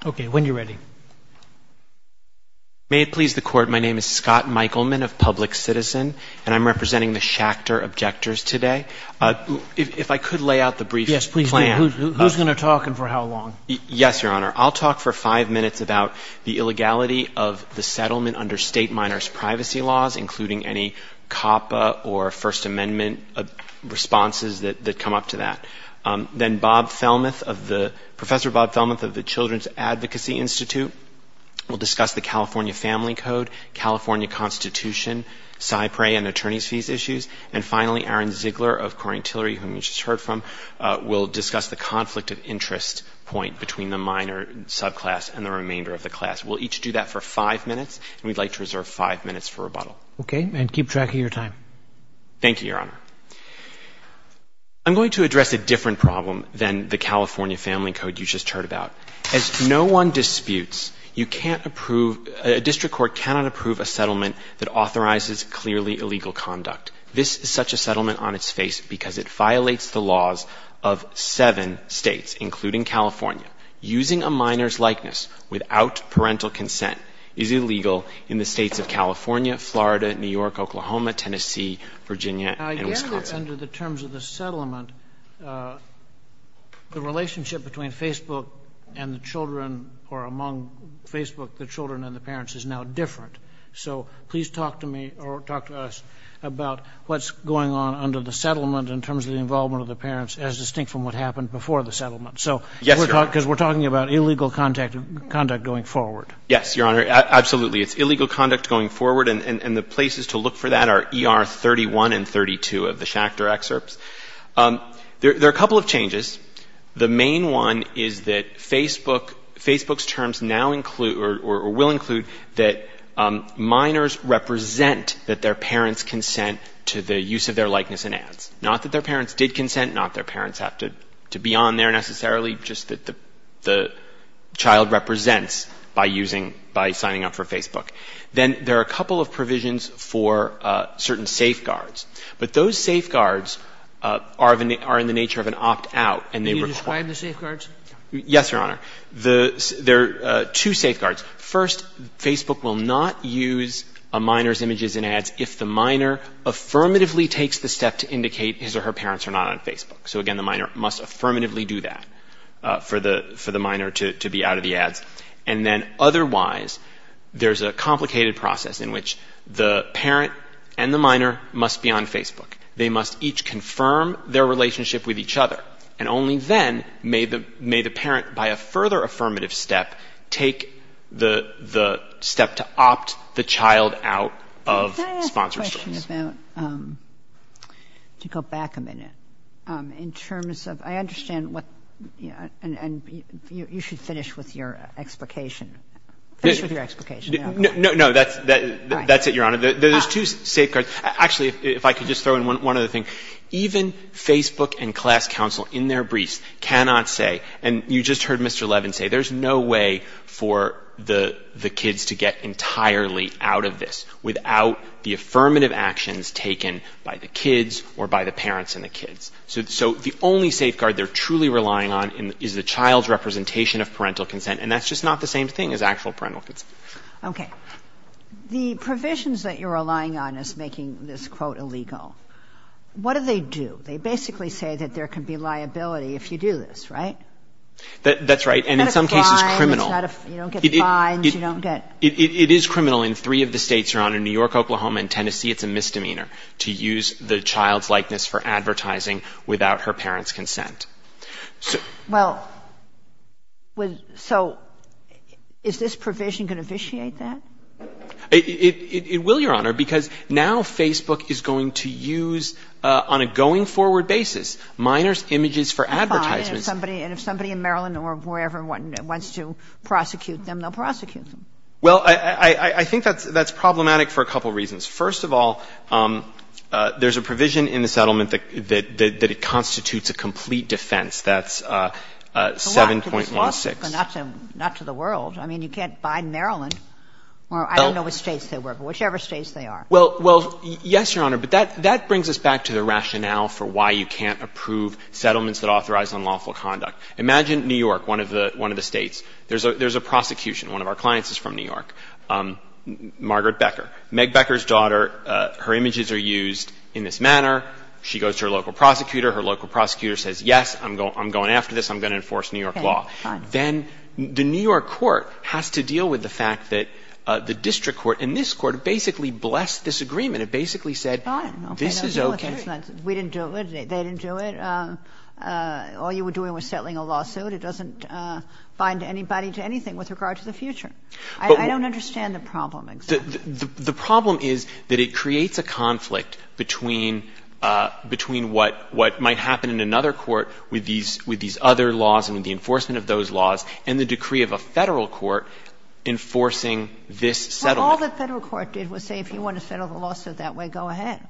Scott Michaelman, Public Citizen, and I'm representing the Schachter Objectors today. I'll talk for five minutes about the illegality of the settlement under state minors' privacy laws, including any COPPA or First Amendment responses that come up to that. Then Professor Bob Thelmuth of the Children's Advocacy Institute will discuss the California Family Code, California Constitution, SIPRE, and attorney's fees issues. And finally, Aaron Ziegler of Corringtillery, whom you just heard from, will discuss the conflict of interest point between the minor subclass and the remainder of the class. We'll each do that for five minutes, and we'd like to reserve five minutes for rebuttal. Okay, and keep track of your time. Thank you, Your Honor. I'm going to address a different problem than the California Family Code you just heard about. As no one disputes, a district court cannot approve a settlement that authorizes clearly illegal conduct. This is such a settlement on its face because it violates the laws of seven states, including California. Using a minor's likeness without parental consent is illegal in the states of California, Florida, New York, Oklahoma, Tennessee, Virginia, and Wisconsin. I get that under the terms of the settlement, the relationship between Facebook and the children or among Facebook, the children and the parents is now different. So please talk to me or talk to us about what's going on under the settlement in terms of the involvement of the parents as distinct from what happened before the settlement. Because we're talking about illegal conduct going forward. Yes, Your Honor, absolutely. It's illegal conduct going forward, and the places to look for that are ER 31 and 32 of the Schachter excerpts. There are a couple of changes. The main one is that Facebook's terms will include that minors represent that their parents consent to the use of their likeness in ads. Not that their parents did consent, not that their parents have to be on there necessarily, just that the child represents by signing up for Facebook. Then there are a couple of provisions for certain safeguards. But those safeguards are in the nature of an opt-out. Do you require the safeguards? Yes, Your Honor. There are two safeguards. First, Facebook will not use a minor's images in ads if the minor affirmatively takes the step to indicate his or her parents are not on Facebook. So again, the minor must affirmatively do that for the minor to be out of the ads. And then otherwise, there's a complicated process in which the parent and the minor must be on Facebook. They must each confirm their relationship with each other. And only then may the parent, by a further affirmative step, take the step to opt the child out of sponsorship. Can I ask a question about, to go back a minute, in terms of, I understand what, and you should finish with your explication. No, no, that's it, Your Honor. There's two safeguards. Actually, if I could just throw in one other thing. Even Facebook and class counsel, in their briefs, cannot say, and you just heard Mr. Levin say, there's no way for the kids to get entirely out of this without the affirmative actions taken by the kids or by the parents and the kids. So the only safeguard they're truly relying on is the child's representation of parental consent. And that's just not the same thing as actual parental consent. Okay. The provisions that you're relying on is making this quote illegal. What do they do? They basically say that there could be liability if you do this, right? That's right. And in some cases, criminal. You don't get fines. It is criminal in three of the states, Your Honor, New York, Oklahoma, and Tennessee, it's a misdemeanor to use the child's likeness for advertising without her parents' consent. Well, so is this provision going to officiate that? It will, Your Honor, because now Facebook is going to use, on a going forward basis, minor images for advertising. Fine. And if somebody in Maryland or wherever wants to prosecute them, they'll prosecute them. Well, I think that's problematic for a couple reasons. First of all, there's a provision in the settlement that it constitutes a complete defense. That's 7.16. Well, not to the world. I mean, you can't buy Maryland or I don't know which states they were, but whichever states they are. Well, yes, Your Honor, but that brings us back to the rationale for why you can't approve settlements that authorize unlawful conduct. Imagine New York, one of the states. There's a prosecution. One of our clients is from New York, Margaret Becker. Margaret Becker's daughter, her images are used in this manner. She goes to her local prosecutor. Her local prosecutor says, yes, I'm going after this. I'm going to enforce New York law. Then the New York court has to deal with the fact that the district court and this court basically blessed this agreement. It basically said, this is okay. We didn't do it. They didn't do it. All you were doing was settling a lawsuit. It doesn't bind anybody to anything with regard to the future. I don't understand the problem. The problem is that it creates a conflict between what might happen in another court with these other laws and the enforcement of those laws and the decree of a federal court enforcing this settlement. All the federal court did was say, if you want to settle the lawsuit that way, go ahead.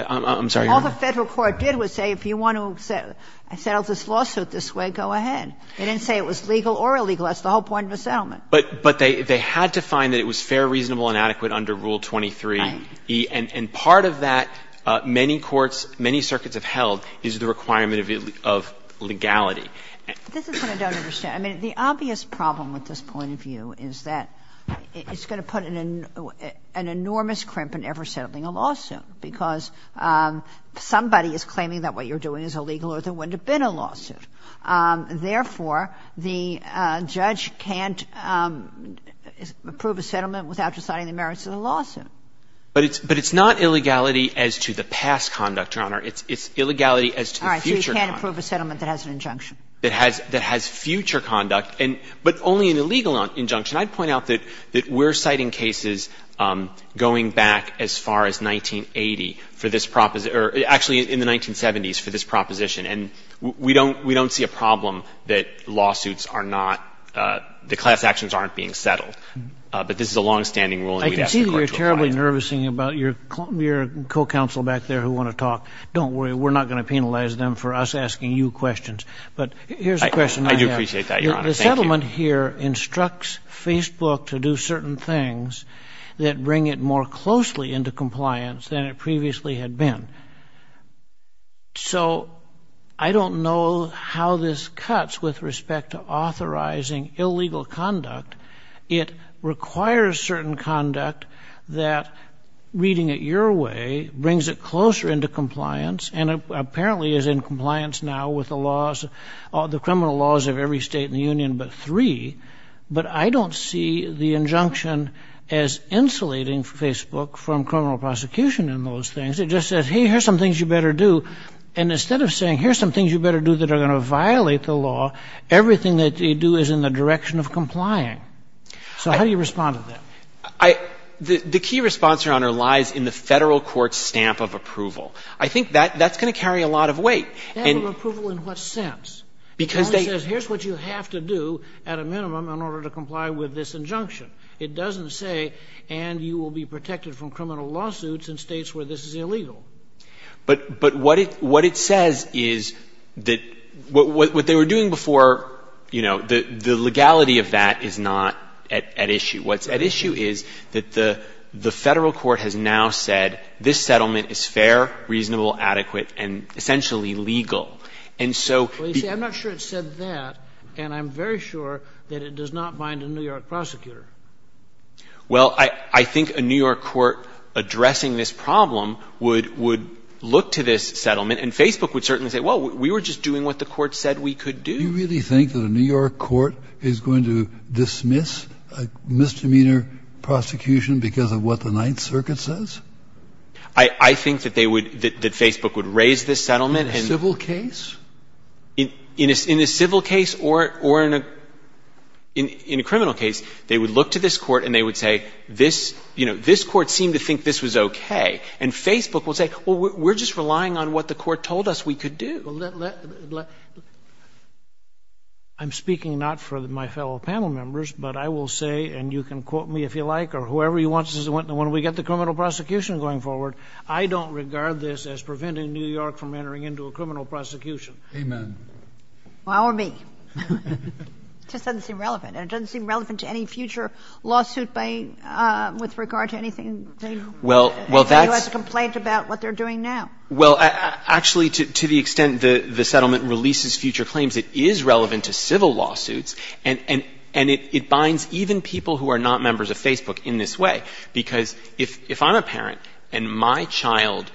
I'm sorry, Your Honor. All the federal court did was say, if you want to settle this lawsuit this way, go ahead. They didn't say it was legal or illegal. That's the whole point of the settlement. But they had to find that it was fair, reasonable, and adequate under Rule 23. And part of that, many courts, many circuits have held, is the requirement of legality. This is what I don't understand. I mean, the obvious problem with this point of view is that it's going to put an enormous crimp in ever settling a lawsuit because somebody is claiming that what you're doing is illegal or there wouldn't have been a lawsuit. Therefore, the judge can't approve a settlement without deciding the merits of the lawsuit. But it's not illegality as to the past conduct, Your Honor. It's illegality as to the future conduct. All right. So you can't approve a settlement that has an injunction. That has future conduct, but only an illegal injunction. I'd point out that we're citing cases going back as far as 1980 for this proposition, or actually in the 1970s for this proposition. And we don't see a problem that lawsuits are not the class actions aren't being settled. But this is a longstanding rule. I can see that you're terribly nervous about your co-counsel back there who want to talk. Don't worry. We're not going to penalize them for us asking you questions. But here's a question I have. I do appreciate that, Your Honor. The settlement here instructs Facebook to do certain things that bring it more closely into compliance than it previously had been. So I don't know how this cuts with respect to authorizing illegal conduct. It requires certain conduct that, reading it your way, brings it closer into compliance, and apparently is in compliance now with the criminal laws of every state in the union but three. But I don't see the injunction as insulating Facebook from criminal prosecution in those things. It just says, hey, here's some things you better do. And instead of saying, here's some things you better do that are going to violate the law, everything that they do is in the direction of complying. So how do you respond to that? The key response, Your Honor, lies in the federal court's stamp of approval. I think that's going to carry a lot of weight. Stamp of approval in what sense? Because they – Here's what you have to do at a minimum in order to comply with this injunction. It doesn't say, and you will be protected from criminal lawsuits in states where this is illegal. But what it says is that what they were doing before, you know, the legality of that is not at issue. What's at issue is that the federal court has now said this settlement is fair, reasonable, adequate, and essentially legal. I'm not sure it said that, and I'm very sure that it does not bind a New York prosecutor. Well, I think a New York court addressing this problem would look to this settlement, and Facebook would certainly say, well, we were just doing what the court said we could do. Do you really think that a New York court is going to dismiss a misdemeanor prosecution because of what the Ninth Circuit says? I think that Facebook would raise this settlement. In a civil case? In a civil case or in a criminal case, they would look to this court and they would say, you know, this court seemed to think this was okay. And Facebook will say, well, we're just relying on what the court told us we could do. I'm speaking not for my fellow panel members, but I will say, and you can quote me if you like or whoever you want, but this is the one where we get the criminal prosecution going forward. I don't regard this as preventing New York from entering into a criminal prosecution. Amen. Well, or me. It just doesn't seem relevant, and it doesn't seem relevant to any future lawsuit with regard to anything in the U.S. complaint about what they're doing now. Well, actually, to the extent that the settlement releases future claims, it is relevant to civil lawsuits, and it binds even people who are not members of Facebook in this way. Because if I'm a parent and my child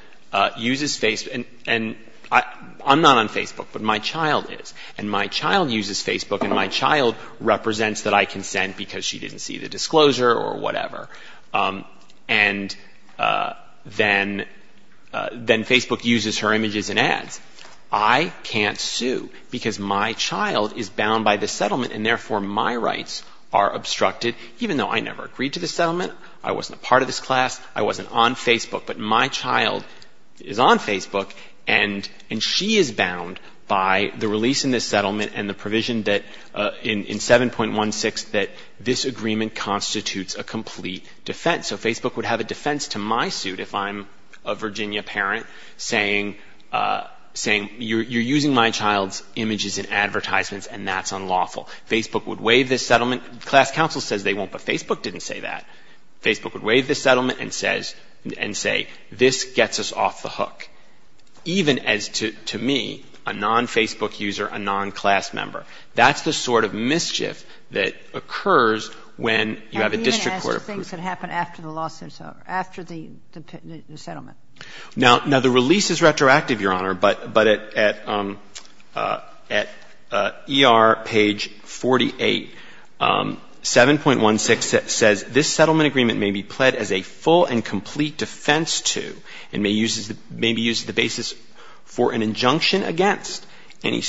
uses Facebook, and I'm not on Facebook, but my child is, and my child uses Facebook and my child represents that I consent because she didn't see the disclosure or whatever, and then Facebook uses her images in ads, I can't sue because my child is bound by the settlement, and therefore my rights are obstructed, even though I never agreed to the settlement, I wasn't a part of this class, I wasn't on Facebook, but my child is on Facebook, and she is bound by the release in this settlement and the provision in 7.16 that this agreement constitutes a complete defense. So Facebook would have a defense to my suit if I'm a Virginia parent saying, you're using my child's images in advertisements, and that's unlawful. Facebook would waive this settlement. The class council says they won't, but Facebook didn't say that. Facebook would waive this settlement and say, this gets us off the hook, even as to me, a non-Facebook user, a non-class member. That's the sort of mischief that occurs when you have a district court approval. And even as to things that happen after the settlement. Now, the release is retroactive, Your Honor, but at ER page 48, 7.16 says, this settlement agreement may be pled as a full and complete defense to, and may be used as the basis for an injunction against any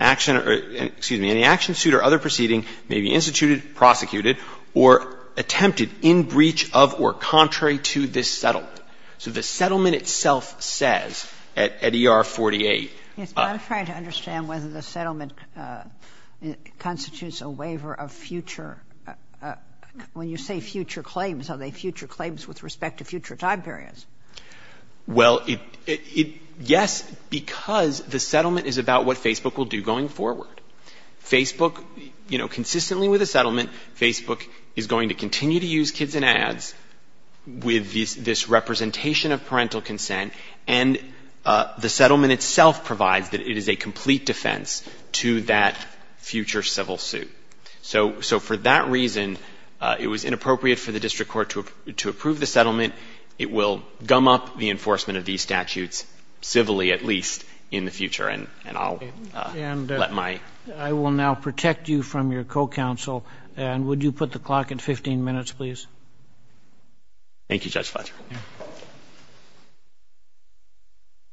action, suit, or other proceeding may be instituted, prosecuted, or attempted in breach of or contrary to this settlement. So the settlement itself says at ER 48. I'm trying to understand whether the settlement constitutes a waiver of future, when you say future claims, are they future claims with respect to future time periods? Well, yes, because the settlement is about what Facebook will do going forward. Facebook, you know, consistently with the settlement, Facebook is going to continue to use kids in ads with this representation of parental consent, and the settlement itself provides that it is a complete defense to that future civil suit. So for that reason, it was inappropriate for the district court to approve the settlement. It will gum up the enforcement of these statutes, civilly at least, in the future. And I will now protect you from your co-counsel. And would you put the clock in 15 minutes, please? Thank you, Judge Fletcher.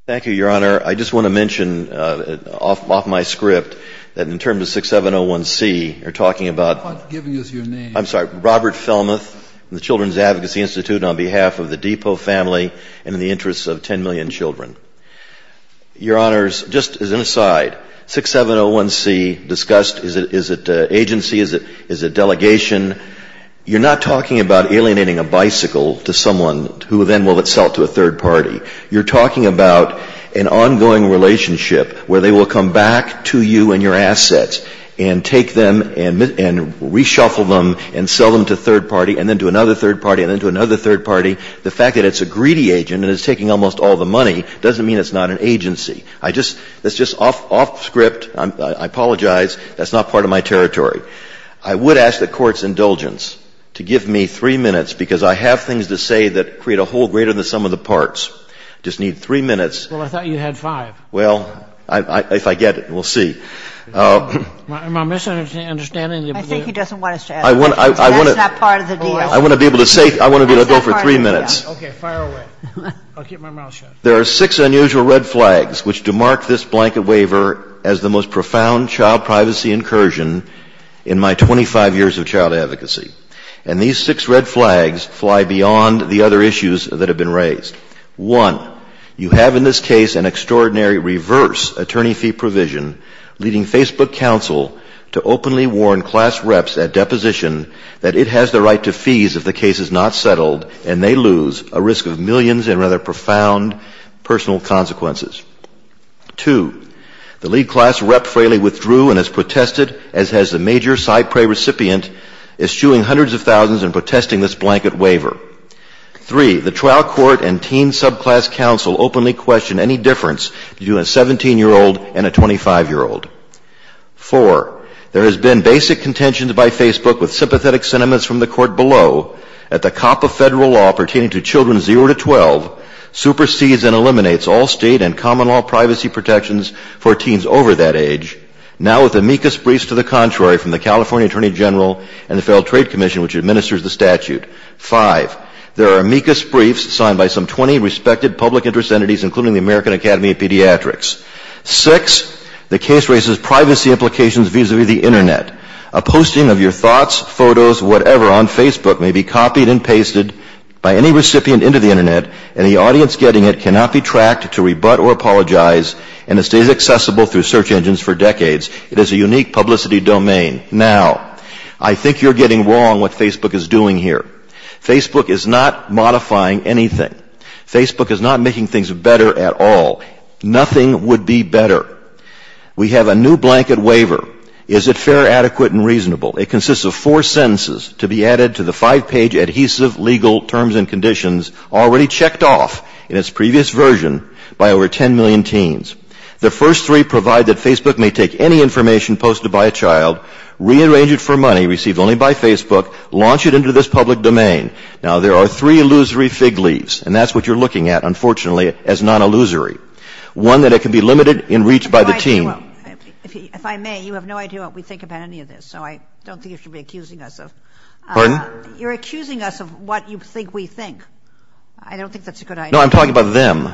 Thank you, Your Honor. Your Honor, I just want to mention off my script that in terms of 6701C, you're talking about— I'm not giving you your name. I'm sorry. Robert Fellmuth from the Children's Advocacy Institute on behalf of the Depot family and in the interest of 10 million children. Your Honors, just as an aside, 6701C discussed, is it agency, is it delegation? You're not talking about alienating a bicycle to someone who then will sell it to a third party. You're talking about an ongoing relationship where they will come back to you and your assets and take them and reshuffle them and sell them to a third party and then to another third party and then to another third party. The fact that it's a greedy agent and it's taking almost all the money doesn't mean it's not an agency. That's just off script. I apologize. That's not part of my territory. I would ask the Court's indulgence to give me three minutes because I have things to say that create a whole greater than the sum of the parts. I just need three minutes. Well, I thought you had five. Well, if I get it, we'll see. Am I misunderstanding you? I think he doesn't want us to ask. That's not part of the deal. I want to be able to say—I want to be able to go for three minutes. Okay, fire away. I'll keep my mouth shut. There are six unusual red flags which demark this blanket waiver as the most profound child privacy incursion in my 25 years of child advocacy. And these six red flags fly beyond the other issues that have been raised. One, you have in this case an extraordinary reverse attorney fee provision, leading Facebook Counsel to openly warn class reps at deposition that it has the right to fees if the case is not settled and they lose a risk of millions and rather profound personal consequences. Two, the lead class rep frailly withdrew and has protested, as has the major side prey recipient, eschewing hundreds of thousands and protesting this blanket waiver. Three, the trial court and teen subclass counsel openly question any difference between a 17-year-old and a 25-year-old. Four, there has been basic contentions by Facebook with sympathetic sentiments from the court below that the cop of federal law pertaining to children 0 to 12 supersedes and eliminates all state and common law privacy protections for teens over that age. Now with amicus briefs to the contrary from the California Attorney General and the Federal Trade Commission, which administers the statute. Five, there are amicus briefs signed by some 20 respected public interest entities, including the American Academy of Pediatrics. Six, the case raises privacy implications vis-a-vis the Internet. A posting of your thoughts, photos, whatever on Facebook may be copied and pasted by any recipient into the Internet and the audience getting it cannot be tracked to rebut or apologize and has stayed accessible through search engines for decades. It is a unique publicity domain. Now, I think you're getting wrong what Facebook is doing here. Facebook is not modifying anything. Facebook is not making things better at all. Nothing would be better. We have a new blanket waiver. Is it fair, adequate, and reasonable? It consists of four sentences to be added to the five-page adhesive legal terms and conditions already checked off in its previous version by over 10 million teens. The first three provide that Facebook may take any information posted by a child, rearrange it for money received only by Facebook, launch it into this public domain. Now, there are three illusory fig leaves, and that's what you're looking at, unfortunately, as non-illusory, one that it can be limited in reach by the teen. If I may, you have no idea what we think about any of this, so I don't think you should be accusing us of... Pardon? You're accusing us of what you think we think. I don't think that's a good idea. No, I'm talking about them.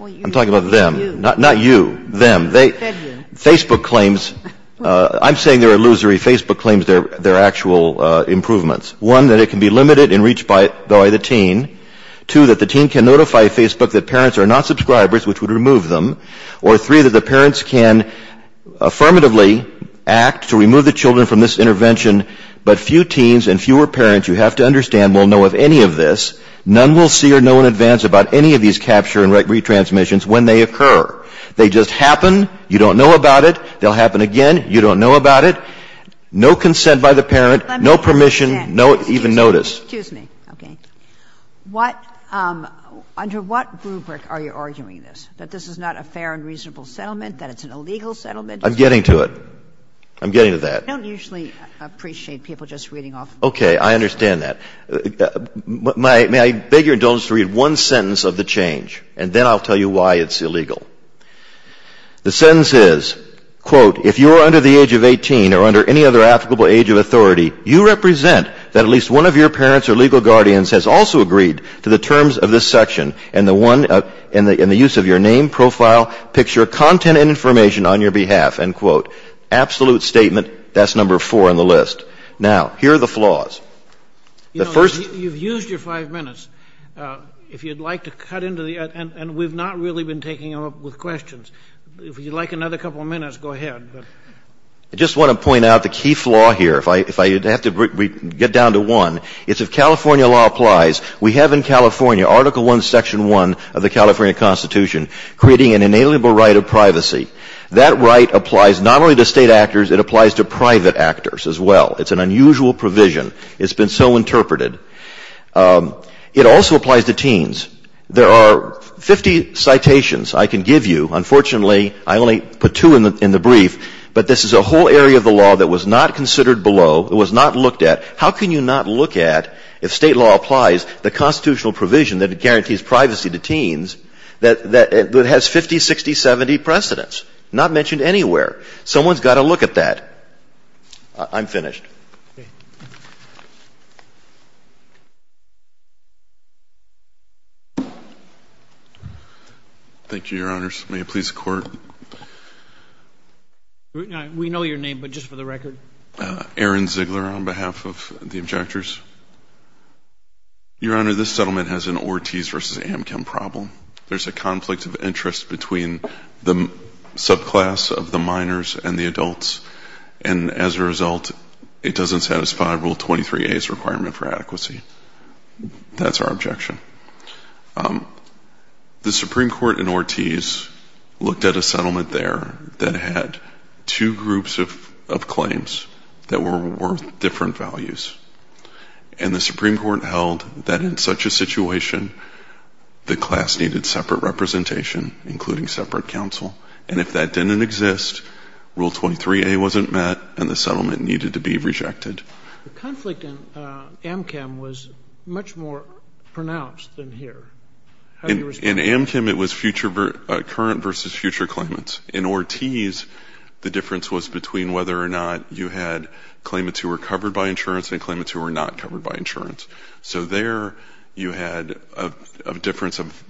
I'm talking about them. Not you. Them. Facebook claims... I'm saying they're illusory. Facebook claims they're actual improvements. One, that it can be limited in reach by the teen. Two, that the teen can notify Facebook that parents are not subscribers, which would remove them. Or three, that the parents can affirmatively act to remove the children from this intervention, but few teens and fewer parents, you have to understand, will know of any of this. None will see or know in advance about any of these capture and retransmissions when they occur. They just happen. You don't know about it. They'll happen again. You don't know about it. No consent by the parent. No permission. No even notice. Excuse me. Okay. Under what rubric are you arguing this? That this is not a fair and reasonable settlement? That it's an illegal settlement? I'm getting to it. I'm getting to that. I don't usually appreciate people just reading off. Okay. I understand that. May I beg your indulgence to read one sentence of the change, and then I'll tell you why it's illegal. The sentence is, quote, if you are under the age of 18 or under any other applicable age of authority, you represent that at least one of your parents or legal guardians has also agreed to the terms of this section in the use of your name, profile, picture, content, and information on your behalf, end quote. Absolute statement, that's number four on the list. Now, here are the flaws. You've used your five minutes. If you'd like to cut into the end, and we've not really been taking them up with questions. If you'd like another couple of minutes, go ahead. I just want to point out the key flaw here. If I have to get down to one, it's that California law applies. We have in California Article I, Section I of the California Constitution creating an inalienable right of privacy. That right applies not only to state actors, it applies to private actors as well. It's an unusual provision. It's been so interpreted. It also applies to teens. There are 50 citations I can give you. Unfortunately, I only put two in the brief, but this is a whole area of the law that was not considered below. It was not looked at. How can you not look at, if state law applies, the constitutional provision that guarantees privacy to teens that has 50, 60, 70 precedents? Not mentioned anywhere. Someone's got to look at that. I'm finished. Thank you, Your Honors. May it please the Court. We know your name, but just for the record. Aaron Ziegler on behalf of the objectors. Your Honor, this settlement has an Ortiz v. Amchem problem. There's a conflict of interest between the subclass of the minors and the adults, and as a result, it doesn't satisfy Rule 23a's requirement for adequacy. That's our objection. The Supreme Court in Ortiz looked at a settlement there that had two groups of claims that were worth different values, and the Supreme Court held that in such a situation, the class needed separate representation, including separate counsel, and if that didn't exist, Rule 23a wasn't met and the settlement needed to be rejected. The conflict in Amchem was much more pronounced than here. In Amchem, it was current versus future claimants. In Ortiz, the difference was between whether or not you had claimants who were covered by insurance and claimants who were not covered by insurance. So there you had a difference of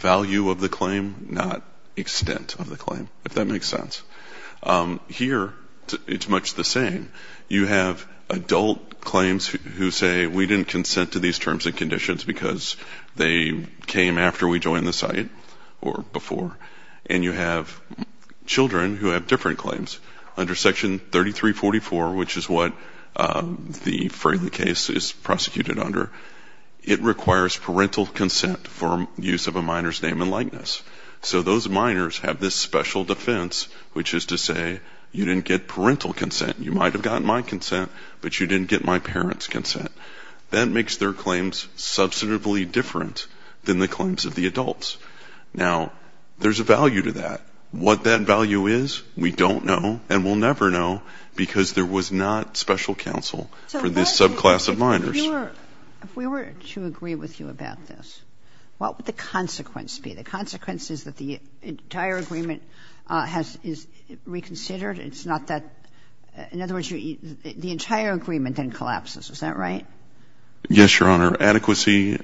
value of the claim, not extent of the claim, if that makes sense. Here, it's much the same. You have adult claims who say, we didn't consent to these terms and conditions because they came after we joined the site or before, and you have children who have different claims. Under Section 3344, which is what the Franklin case is prosecuted under, it requires parental consent for use of a minor's name and likeness. So those minors have this special defense, which is to say, you didn't get parental consent. You might have gotten my consent, but you didn't get my parents' consent. That makes their claims substantively different than the claims of the adults. Now, there's a value to that. What that value is, we don't know, and we'll never know, because there was not special counsel for this subclass of minors. If we were to agree with you about this, what would the consequence be? The consequence is that the entire agreement is reconsidered. In other words, the entire agreement then collapses. Is that right? Yes, Your Honor. Adequacy,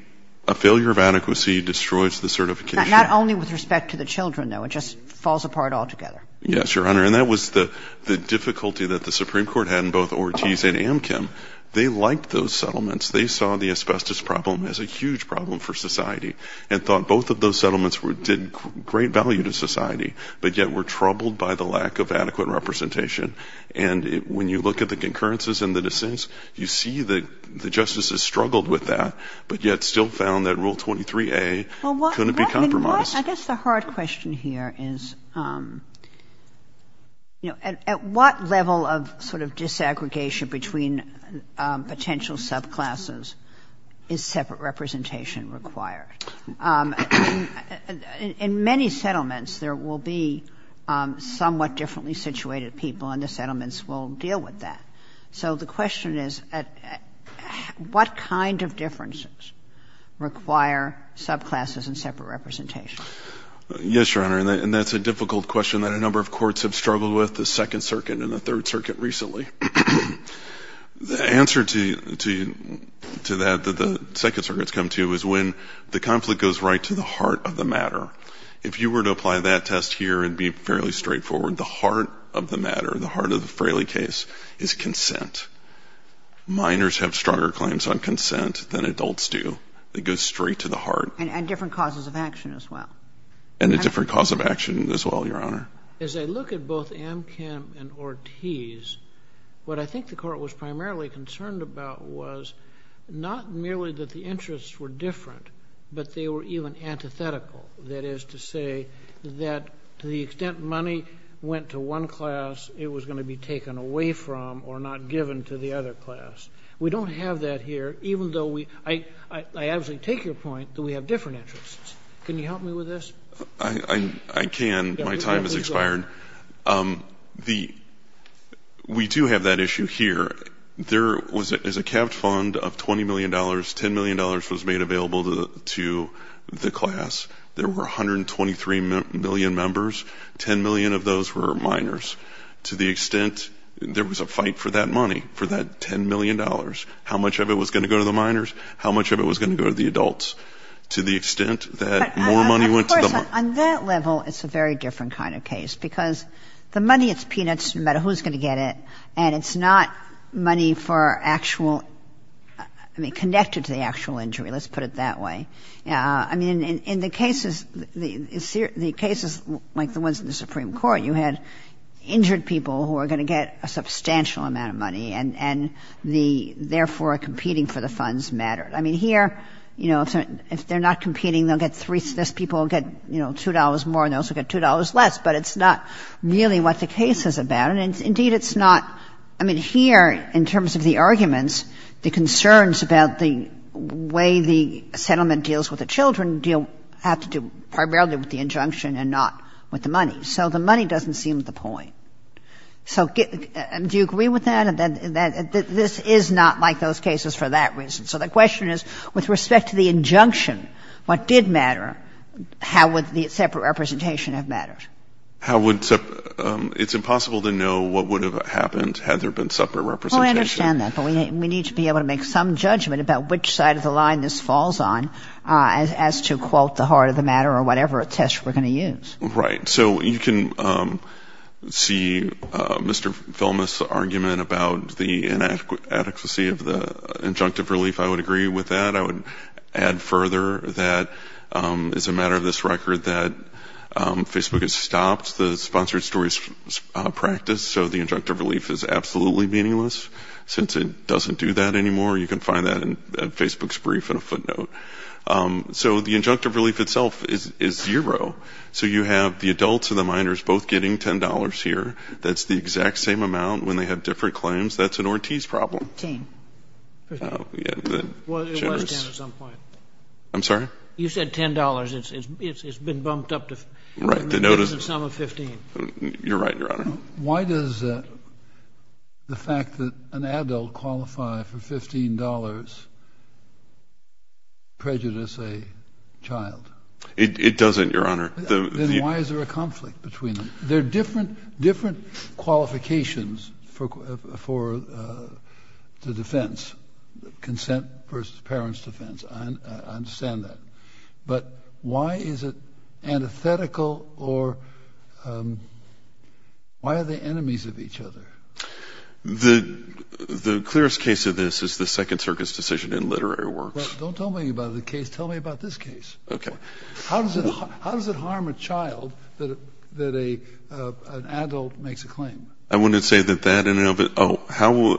a failure of adequacy, destroys the certification. Not only with respect to the children, though. It just falls apart altogether. Yes, Your Honor. And that was the difficulty that the Supreme Court had in both Ortiz and Amkin. They liked those settlements. They saw the asbestos problem as a huge problem for society and thought both of those settlements did great value to society, but yet were troubled by the lack of adequate representation. And when you look at the concurrences and the dissents, you see that the justices struggled with that, but yet still found that Rule 23A couldn't be compromised. I guess the hard question here is, at what level of sort of disaggregation between potential subclasses is separate representation required? In many settlements, there will be somewhat differently situated people, and the settlements will deal with that. So the question is, what kind of differences require subclasses and separate representation? Yes, Your Honor, and that's a difficult question that a number of courts have struggled with, the Second Circuit and the Third Circuit recently. The answer to that that the Second Circuit has come to is when the conflict goes right to the heart of the matter. If you were to apply that test here, it would be fairly straightforward. The heart of the matter, the heart of the Fraley case, is consent. Minors have stronger claims on consent than adults do. It goes straight to the heart. And different causes of action as well. And a different cause of action as well, Your Honor. As I look at both Amkham and Ortiz, what I think the Court was primarily concerned about was not merely that the interests were different, but they were even antithetical. That is to say that to the extent money went to one class, it was going to be taken away from or not given to the other class. We don't have that here, even though we... I absolutely take your point that we have different interests. Can you help me with this? I can. My time has expired. We do have that issue here. There was a capped fund of $20 million. $10 million was made available to the class. There were 123 million members. Ten million of those were minors. To the extent... There was a fight for that money, for that $10 million. How much of it was going to go to the minors? How much of it was going to go to the adults? To the extent that more money went to the... Of course, on that level, it's a very different kind of case because the money is peanuts no matter who's going to get it, and it's not money for actual... connected to the actual injury, let's put it that way. I mean, in the cases like the ones in the Supreme Court, you had injured people who are going to get a substantial amount of money and therefore are competing for the funds matter. I mean, here, if they're not competing, people will get $2 more and they'll also get $2 less, but it's not really what the case is about. Indeed, it's not... I mean, here, in terms of the arguments, the concerns about the way the settlement deals with the children deal primarily with the injunction and not with the money. So the money doesn't seem to be the point. Do you agree with that? This is not like those cases for that reason. So the question is, with respect to the injunction, what did matter? How would the separate representation have mattered? How would separate... It's impossible to know what would have happened had there been separate representation. I understand that, but we need to be able to make some judgment about which side of the line this falls on as to, quote, the heart of the matter or whatever test we're going to use. Right. So you can see Mr. Feldman's argument about the inadequacy of the injunctive relief. I would agree with that. I would add further that it's a matter of this record that Facebook has stopped the sponsored stories practice, so the injunctive relief is absolutely meaningless. Since it doesn't do that anymore, you can find that in Facebook's brief in a footnote. So the injunctive relief itself is zero. So you have the adults and the minors both getting $10 here. That's the exact same amount when they had different claims. That's an Ortiz problem. $10. It was $10 at some point. I'm sorry? You said $10. It's been bumped up to $15. You're right, Your Honor. Why does the fact that an adult qualified for $15 prejudice a child? It doesn't, Your Honor. Then why is there a conflict between them? There are different qualifications for the defense, consent versus parent's defense. I understand that. But why is it antithetical or why are they enemies of each other? The clearest case of this is the Second Circuit's decision in literary works. Don't tell me about the case. Tell me about this case. Okay. How does it harm a child that an adult makes a claim? I wouldn't say that that in and of itself. How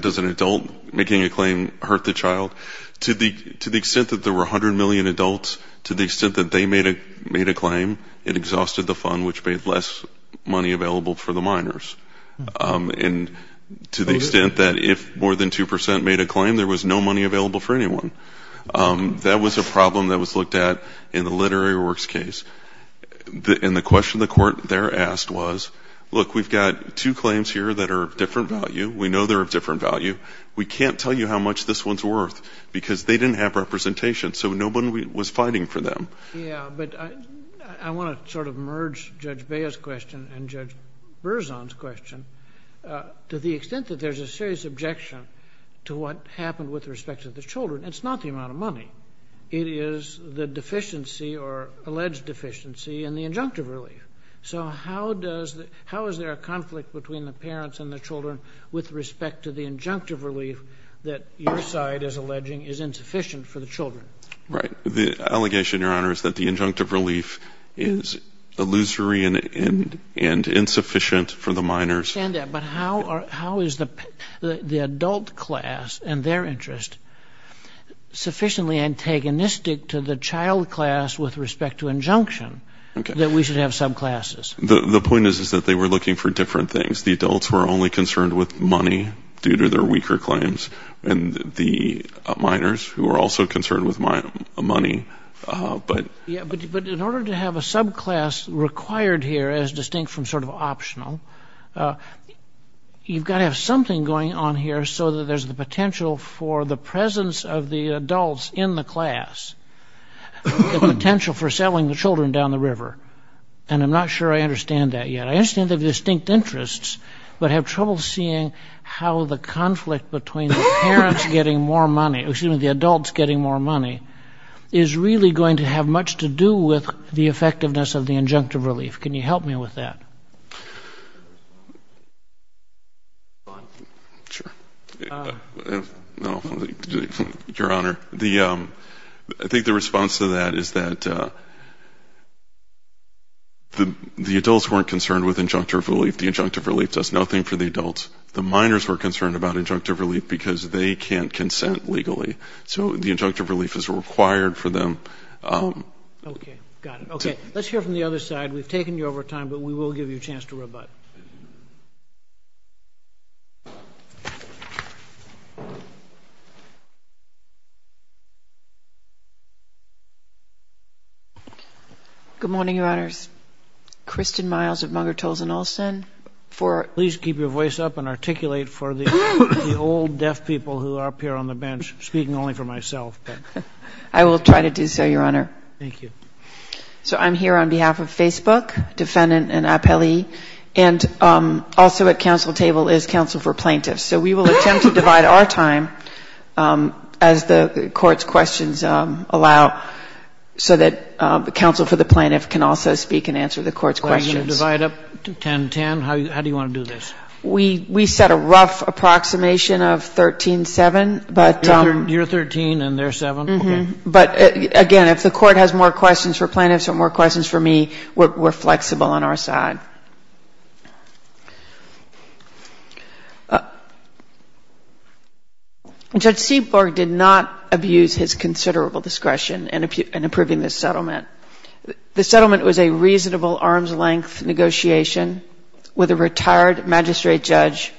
does an adult making a claim hurt the child? To the extent that there were 100 million adults, to the extent that they made a claim, it exhausted the fund, which made less money available for the minors. And to the extent that if more than 2% made a claim, there was no money available for anyone. That was a problem that was looked at in the literary works case. And the question the court there asked was, look, we've got two claims here that are of different value. We know they're of different value. We can't tell you how much this one's worth because they didn't have representation, so no one was fighting for them. Yeah, but I want to sort of merge Judge Baya's question and Judge Berzon's question. To the extent that there's a serious objection to what happened with respect to the children, it's not the amount of money. It is the deficiency or alleged deficiency in the injunctive relief. So how is there a conflict between the parents and the children with respect to the injunctive relief that your side is alleging is insufficient for the children? Right. The allegation, Your Honor, is that the injunctive relief is illusory and insufficient for the minors. I understand that, but how is the adult class and their interest sufficiently antagonistic to the child class with respect to injunction that we should have subclasses? The point is that they were looking for different things. The adults were only concerned with money due to their weaker claims, and the minors who were also concerned with money. Yeah, but in order to have a subclass required here as distinct from sort of optional, you've got to have something going on here so that there's the potential for the presence of the adults in the class, the potential for selling the children down the river, and I'm not sure I understand that yet. I understand the distinct interests, but I have trouble seeing how the conflict between the parents getting more money, excuse me, the adults getting more money, is really going to have much to do with the effectiveness of the injunctive relief. Can you help me with that? Sure. Your Honor, I think the response to that is that the adults weren't concerned with injunctive relief. The injunctive relief does nothing for the adults. The minors were concerned about injunctive relief because they can't consent legally, so the injunctive relief is required for them. Okay, got it. Okay, let's hear from the other side. We've taken you over time, but we will give you a chance to rebut. Good morning, Your Honor. Kristen Myles of Munger, Tolleson, Olson. Please keep your voice up and articulate for the old deaf people who are up here on the bench, speaking only for myself. I will try to do so, Your Honor. Thank you. So I'm here on behalf of Facebook, Defendant and Appellee, and I'm here on behalf of the Department of Justice, and also at counsel table is counsel for plaintiffs. So we will attempt to divide our time as the court's questions allow so that counsel for the plaintiff can also speak and answer the court's questions. Are you going to divide it up 10-10? How do you want to do this? We set a rough approximation of 13-7. You're 13 and they're 7? But again, if the court has more questions for plaintiffs or more questions for me, we're flexible on our side. Judge Seaborg did not abuse his considerable discretion in approving this settlement. The settlement was a reasonable arm's length negotiation with a retired magistrate judge,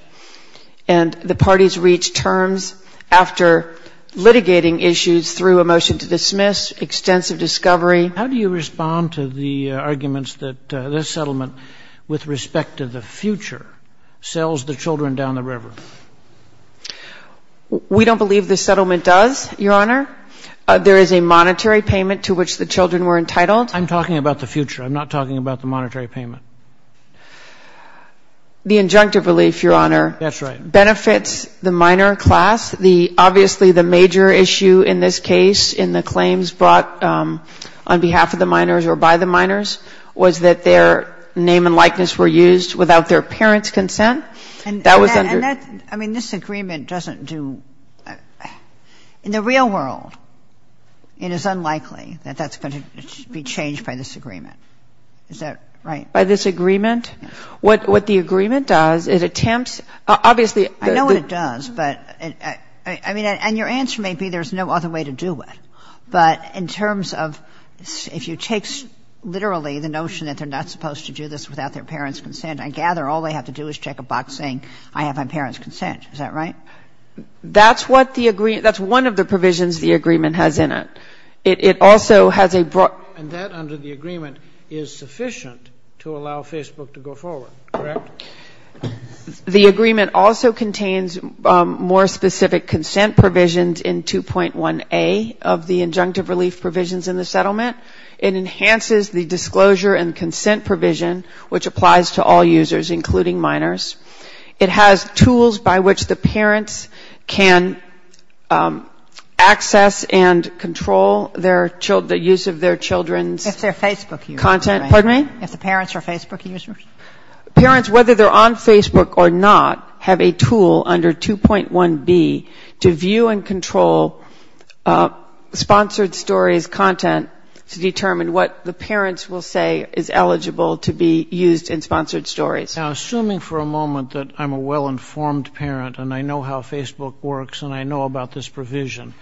and the parties reached terms after litigating issues through a motion to dismiss, extensive discovery. How do you respond to the arguments that this settlement, with respect to the future, sells the children down the river? We don't believe the settlement does, Your Honor. There is a monetary payment to which the children were entitled. I'm talking about the future. I'm not talking about the monetary payment. The injunctive relief, Your Honor, benefits the minor class. Obviously, the major issue in this case in the claims brought on behalf of the minors or by the minors was that their name and likeness were used without their parent's consent. I mean, this agreement doesn't do – in the real world, it is unlikely that that's going to be changed by this agreement. Is that right? By this agreement? Yes. What the agreement does, it attempts – obviously – I know what it does, but – I mean, and your answer may be there's no other way to do it. But in terms of – if you take literally the notion that they're not supposed to do this without their parent's consent, I gather all they have to do is check a box saying, I have my parent's consent. Is that right? That's what the – that's one of the provisions the agreement has in it. It also has a – And that, under the agreement, is sufficient to allow Facebook to go forward, correct? The agreement also contains more specific consent provisions in 2.1a of the injunctive relief provisions in the settlement. It enhances the disclosure and consent provision, which applies to all users, including minors. It has tools by which the parents can access and control their – the use of their children's – If they're Facebook users. Content – pardon me? If the parents are Facebook users. Parents, whether they're on Facebook or not, have a tool under 2.1b to view and control sponsored stories content to determine what the parents will say is eligible to be used in sponsored stories. Now, assuming for a moment that I'm a well-informed parent, and I know how Facebook works, and I know about this provision,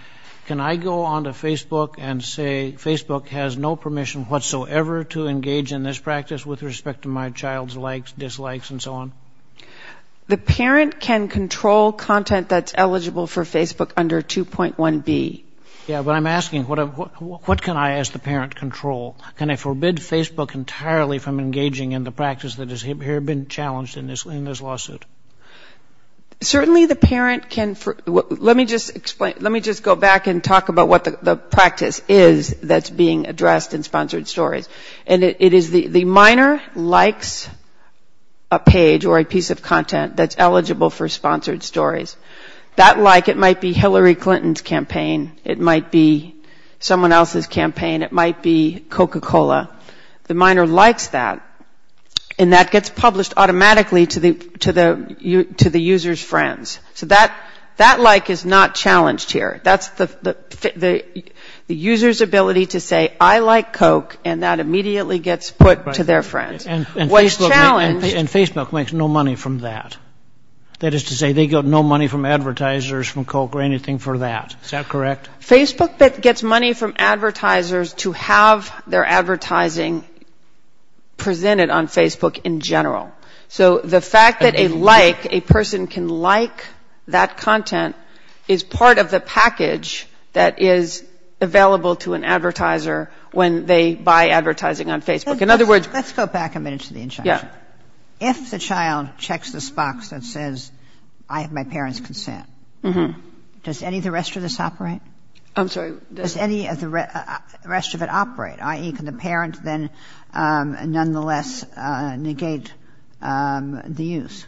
can I go onto Facebook and say, Facebook has no permission whatsoever to engage in this practice with respect to my child's likes, dislikes, and so on? The parent can control content that's eligible for Facebook under 2.1b. Yeah, but I'm asking, what can I, as the parent, control? Can I forbid Facebook entirely from engaging in the practice that has here been challenged in this lawsuit? Certainly, the parent can – let me just explain – let me just go back and talk about what the practice is that's being addressed in sponsored stories. And it is – the minor likes a page or a piece of content that's eligible for sponsored stories. That like, it might be Hillary Clinton's campaign. It might be someone else's campaign. It might be Coca-Cola. The minor likes that, and that gets published automatically to the user's friends. So that like is not challenged here. That's the user's ability to say, I like Coke, and that immediately gets put to their friends. And Facebook makes no money from that. That is to say, they get no money from advertisers from Coke or anything for that. Is that correct? Facebook gets money from advertisers to have their advertising presented on Facebook in general. So the fact that a like, a person can like that content, is part of the package that is available to an advertiser when they buy advertising on Facebook. In other words – Let's go back a minute to the incentive. If the child checks this box that says, I have my parents' consent, does any of the rest of this operate? I'm sorry. Does any of the rest of it operate? I.e., can the parent then nonetheless negate the use?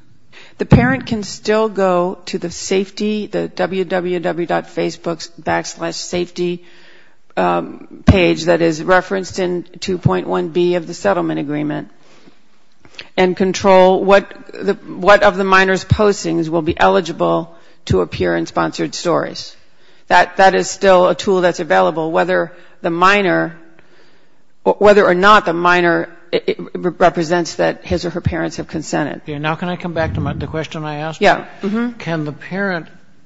The parent can still go to the safety, the www.facebook.com backslash safety page that is referenced in 2.1B of the settlement agreement and control what of the minor's postings will be eligible to appear in sponsored stories. That is still a tool that is available, whether or not the minor represents that his or her parents have consented. Now can I come back to the question I asked? Yes.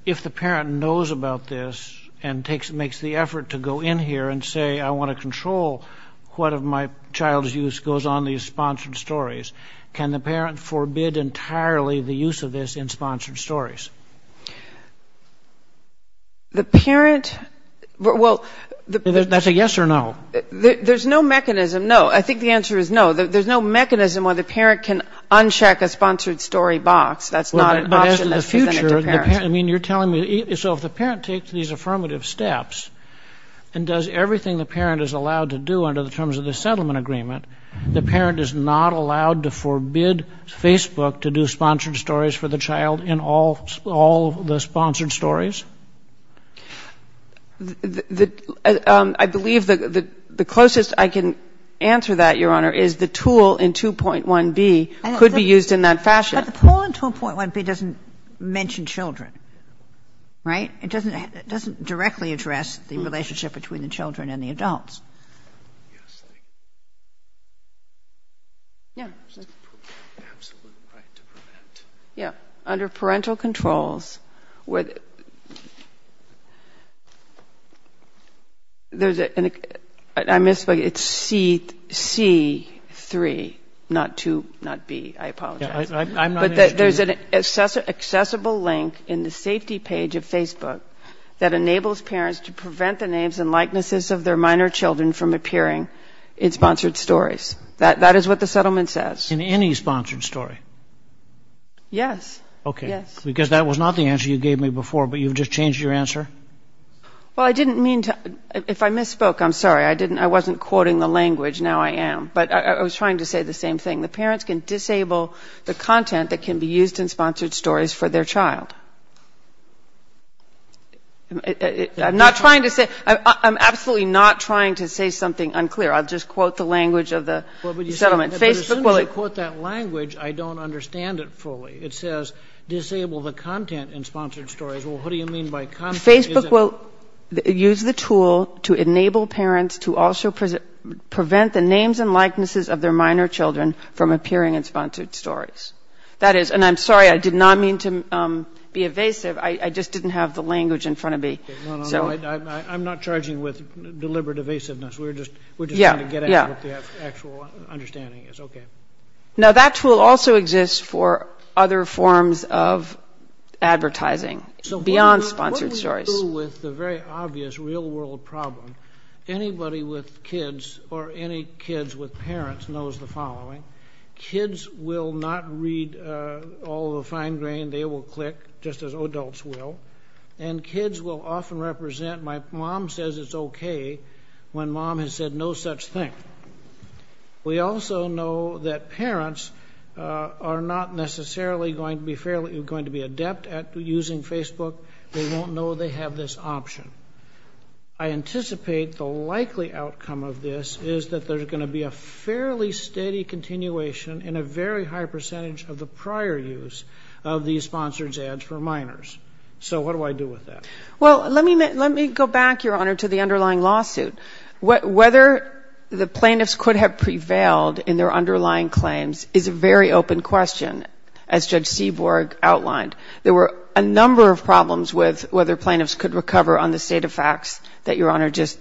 If the parent knows about this and makes the effort to go in here and say, I want to control what of my child's use goes on these sponsored stories, can the parent forbid entirely the use of this in sponsored stories? Is that a yes or no? There's no mechanism. No. I think the answer is no. There's no mechanism where the parent can uncheck a sponsored story box. That's not an option that's given to the parent. So if the parent takes these affirmative steps and does everything the parent is allowed to do under the terms of the settlement agreement, the parent is not allowed to forbid Facebook to do sponsored stories for the child in all the sponsored stories? I believe the closest I can answer that, Your Honor, is the tool in 2.1B could be used in that fashion. But the tool in 2.1B doesn't mention children, right? It doesn't directly address the relationship between the children and the adults. Under parental controls, I misspoke, it's C3, not 2, not B. I apologize. But there's an accessible link in the safety page of Facebook that enables parents to prevent the names and likenesses of their minor children from appearing in sponsored stories. That is what the settlement says. In any sponsored story? Yes. Okay. Because that was not the answer you gave me before, but you just changed your answer? Well, I didn't mean to. If I misspoke, I'm sorry. I wasn't quoting the language. Now I am. But I was trying to say the same thing. The parents can disable the content that can be used in sponsored stories for their child. I'm absolutely not trying to say something unclear. I'll just quote the language of the settlement. But as soon as you quote that language, I don't understand it fully. It says disable the content in sponsored stories. Well, what do you mean by content? Facebook will use the tool to enable parents to also prevent the names and likenesses of their minor children from appearing in sponsored stories. And I'm sorry, I did not mean to be evasive. I just didn't have the language in front of me. I'm not charging with deliberate evasiveness. We're just trying to get at what the actual understanding is. Now that tool also exists for other forms of advertising beyond sponsored stories. To deal with the very obvious real-world problem, anybody with kids or any kids with parents knows the following. Kids will not read all the fine grain. They will click just as adults will. And kids will often represent, my mom says it's okay when mom has said no such thing. We also know that parents are not necessarily going to be adept at using Facebook. They don't know they have this option. I anticipate the likely outcome of this is that there's going to be a fairly steady continuation in a very high percentage of the prior use of these sponsored ads for minors. So what do I do with that? Well, let me go back, Your Honor, to the underlying lawsuit. Whether the plaintiffs could have prevailed in their underlying claims is a very open question, as Judge Seaborg outlined. There were a number of problems with whether plaintiffs could recover on the state of facts that Your Honor just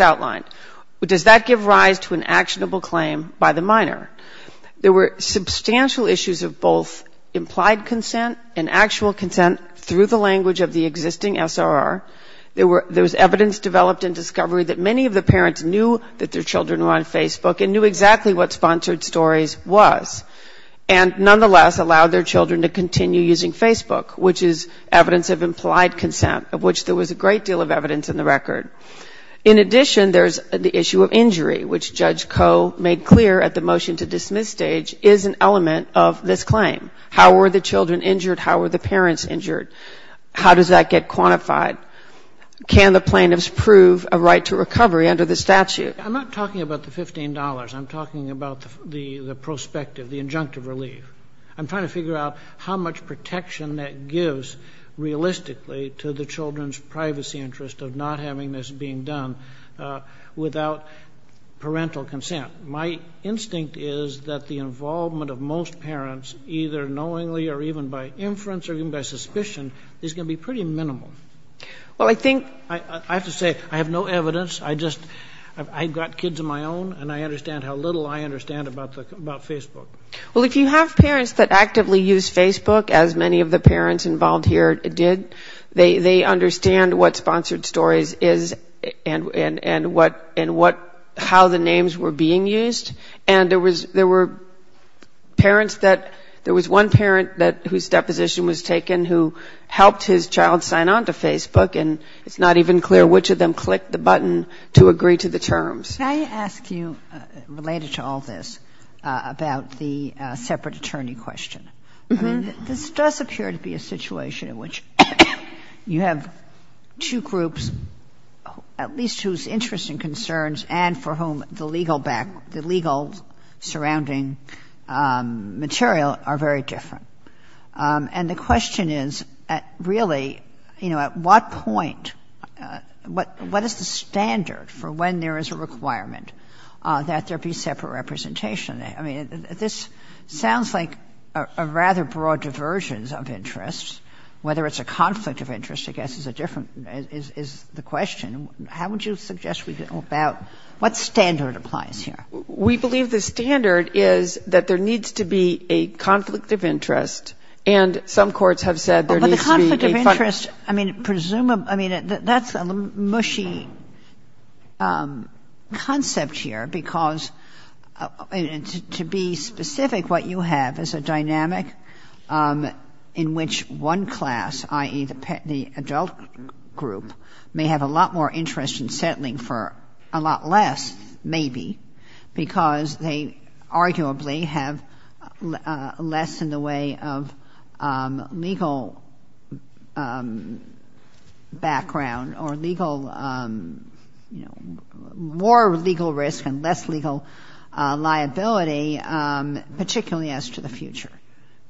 outlined. But does that give rise to an actionable claim by the minor? There were substantial issues of both implied consent and actual consent through the language of the existing SRR. There was evidence developed in discovery that many of the parents knew that their children were on Facebook and knew exactly what sponsored stories was and nonetheless allowed their children to continue using Facebook, which is evidence of implied consent, of which there was a great deal of evidence in the record. In addition, there's the issue of injury, which Judge Koh made clear at the motion-to-dismiss stage, is an element of this claim. How were the children injured? How were the parents injured? How does that get quantified? Can the plaintiffs prove a right to recovery under the statute? I'm not talking about the $15. I'm talking about the prospective, the injunctive relief. I'm trying to figure out how much protection that gives realistically to the children's privacy interest of not having this being done without parental consent. My instinct is that the involvement of most parents, either knowingly or even by inference or even by suspicion, is going to be pretty minimal. I have to say, I have no evidence. I've got kids of my own, and I understand how little I understand about Facebook. Well, if you have parents that actively use Facebook, as many of the parents involved here did, they understand what Sponsored Stories is and how the names were being used, and there was one parent whose deposition was taken who helped his child sign on to Facebook, and it's not even clear which of them clicked the button to agree to the terms. Can I ask you, related to all this, about the separate attorney question? This does appear to be a situation in which you have two groups, at least whose interests and concerns, and for whom the legal surrounding material are very different. And the question is, really, at what point, what is the standard for when there is a requirement that there be separate representation? I mean, this sounds like a rather broad diversions of interests, whether it's a conflict of interest, I guess, is the question. How would you suggest we go about, what standard applies here? We believe the standard is that there needs to be a conflict of interest, and some courts have said there needs to be... A conflict of interest, I mean, that's a mushy concept here, because, to be specific, what you have is a dynamic in which one class, i.e. the adult group, may have a lot more interest in settling for a lot less, maybe, because they arguably have less in the way of legal background, or more legal risk and less legal liability, particularly as to the future.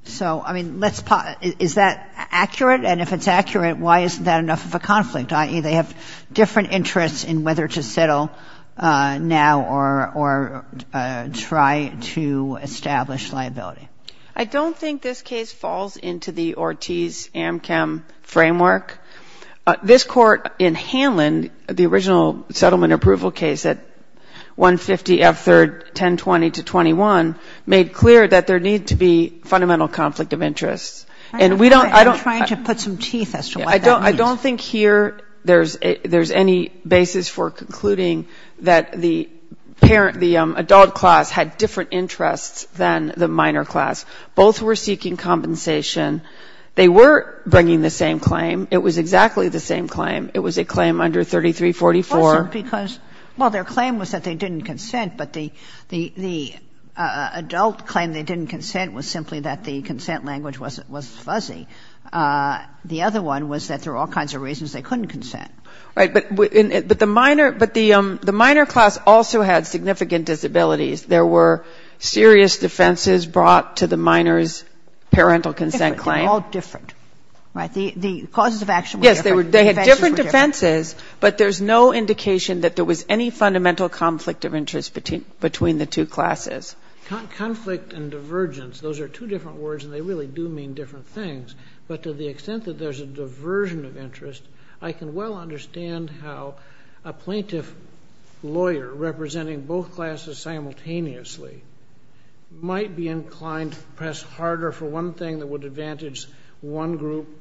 So, I mean, is that accurate? And if it's accurate, why isn't that enough of a conflict, i.e. they have different interests in whether to settle now or try to establish liability? I don't think this case falls into the Ortiz-Amkham framework. This court in Hanlon, the original settlement approval case at 150 F3rd 1020-21, made clear that there needs to be fundamental conflict of interest. I'm trying to put some teeth as to why that means. I don't think here there's any basis for concluding that the adult class had different interests than the minor class. Both were seeking compensation. They were bringing the same claim. It was exactly the same claim. It was a claim under 3344. Well, their claim was that they didn't consent, but the adult claim they didn't consent was simply that the consent language was fuzzy. The other one was that there were all kinds of reasons they couldn't consent. Right, but the minor class also had significant disabilities. There were serious defenses brought to the minor's parental consent claims. They were all different, right? The causes of action were different. Yes, they had different defenses, but there's no indication that there was any fundamental conflict of interest between the two classes. Conflict and divergence, those are two different words, and they really do mean different things, but to the extent that there's a diversion of interest, I can well understand how a plaintiff lawyer representing both classes simultaneously might be inclined to press harder for one thing that would advantage one group,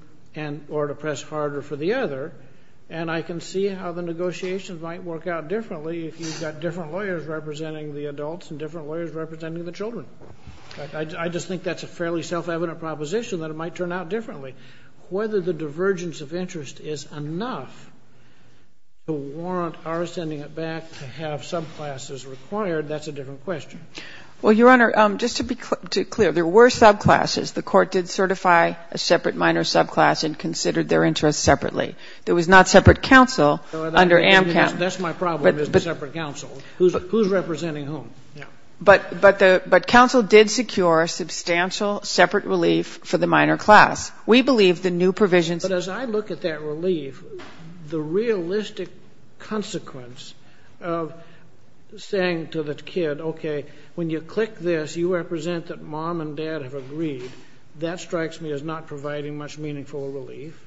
or to press harder for the other, and I can see how the negotiations might work out differently if you've got different lawyers representing the adults and different lawyers representing the children. I just think that's a fairly self-evident proposition that it might turn out differently. Whether the divergence of interest is enough to warrant our sending it back to have subclasses required, that's a different question. Well, Your Honor, just to be clear, there were subclasses. The Court did certify a separate minor subclass and considered their interests separately. There was not separate counsel under Amcamp. That's my problem, there's no separate counsel. Who's representing whom? But counsel did secure substantial separate relief for the minor class. We believe the new provision... But as I look at that relief, the realistic consequence of saying to the kid, okay, when you click this, you represent that mom and dad have agreed, that strikes me as not providing much meaningful relief,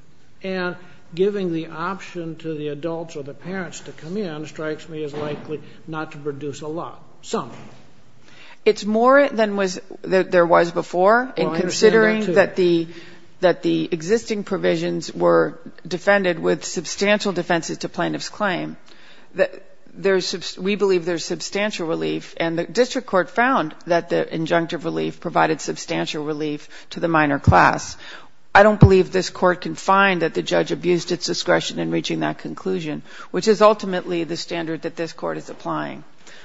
and giving the option to the adults or the parents to come in that strikes me as likely not to produce a lot, some. It's more than there was before, and considering that the existing provisions were defended with substantial defenses to plaintiff's claim, we believe there's substantial relief, and the District Court found that the injunctive relief provided substantial relief to the minor class. I don't believe this Court can find that the judge abused its discretion in reaching that conclusion, which is ultimately the standard that this Court is applying.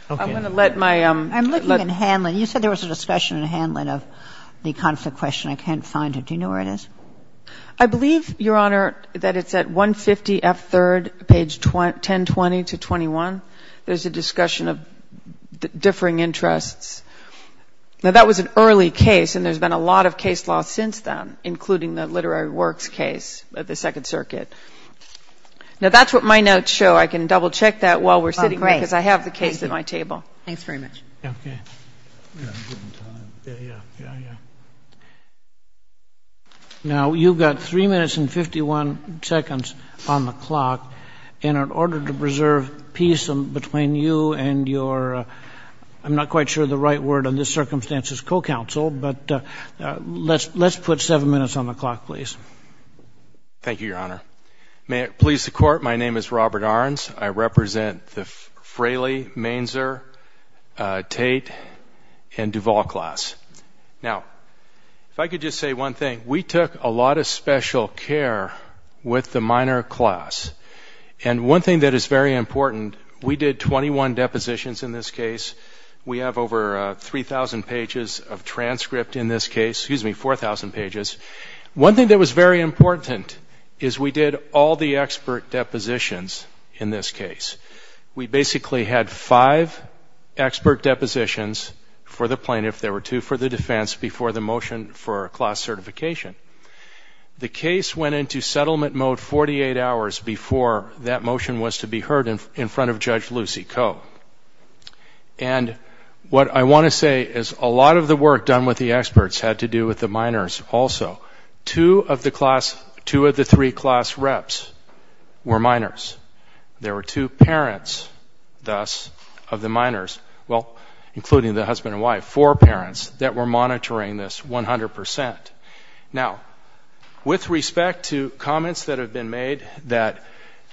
I'm going to let my... I'm looking at handling. You said there was a discussion in handling of the concept question. I can't find it. Do you know where it is? I believe, Your Honor, that it's at 150F3rd, page 1020-21. There's a discussion of differing interests. Now, that was an early case, and there's been a lot of case law since then, including the literary works case at the Second Circuit. Now, that's what my notes show. I can double-check that while we're sitting here, because I have the case at my table. Thanks very much. Now, you've got 3 minutes and 51 seconds on the clock, and in order to preserve peace between you and your... I'm not quite sure the right word in this circumstance is co-counsel, but let's put 7 minutes on the clock, please. Thank you, Your Honor. May it please the Court, my name is Robert Arns. I represent the Fraley, Mainzer, Tate, and Duval class. Now, if I could just say one thing. We took a lot of special care with the minor class, and one thing that is very important, we did 21 depositions in this case. We have over 3,000 pages of transcript in this case. Excuse me, 4,000 pages. One thing that was very important is we did all the expert depositions in this case. We basically had five expert depositions for the plaintiff, there were two for the defense, before the motion for class certification. The case went into settlement mode 48 hours before that motion was to be heard in front of Judge Lucy Koh. And what I want to say is a lot of the work done with the experts had to do with the minors also. Two of the three class reps were minors. There were two parents, thus, of the minors, well, including the husband and wife, four parents, that were monitoring this 100%. Now, with respect to comments that have been made that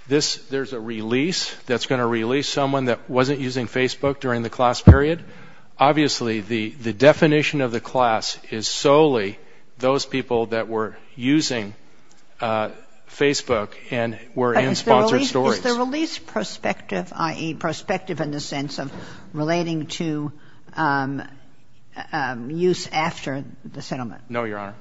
there's a release that's going to release someone that wasn't using Facebook during the class period, obviously the definition of the class is solely those people that were using Facebook and were in sponsored stories. Is the release prospective, i.e., prospective in the sense of relating to use after the settlement? No, Your Honor,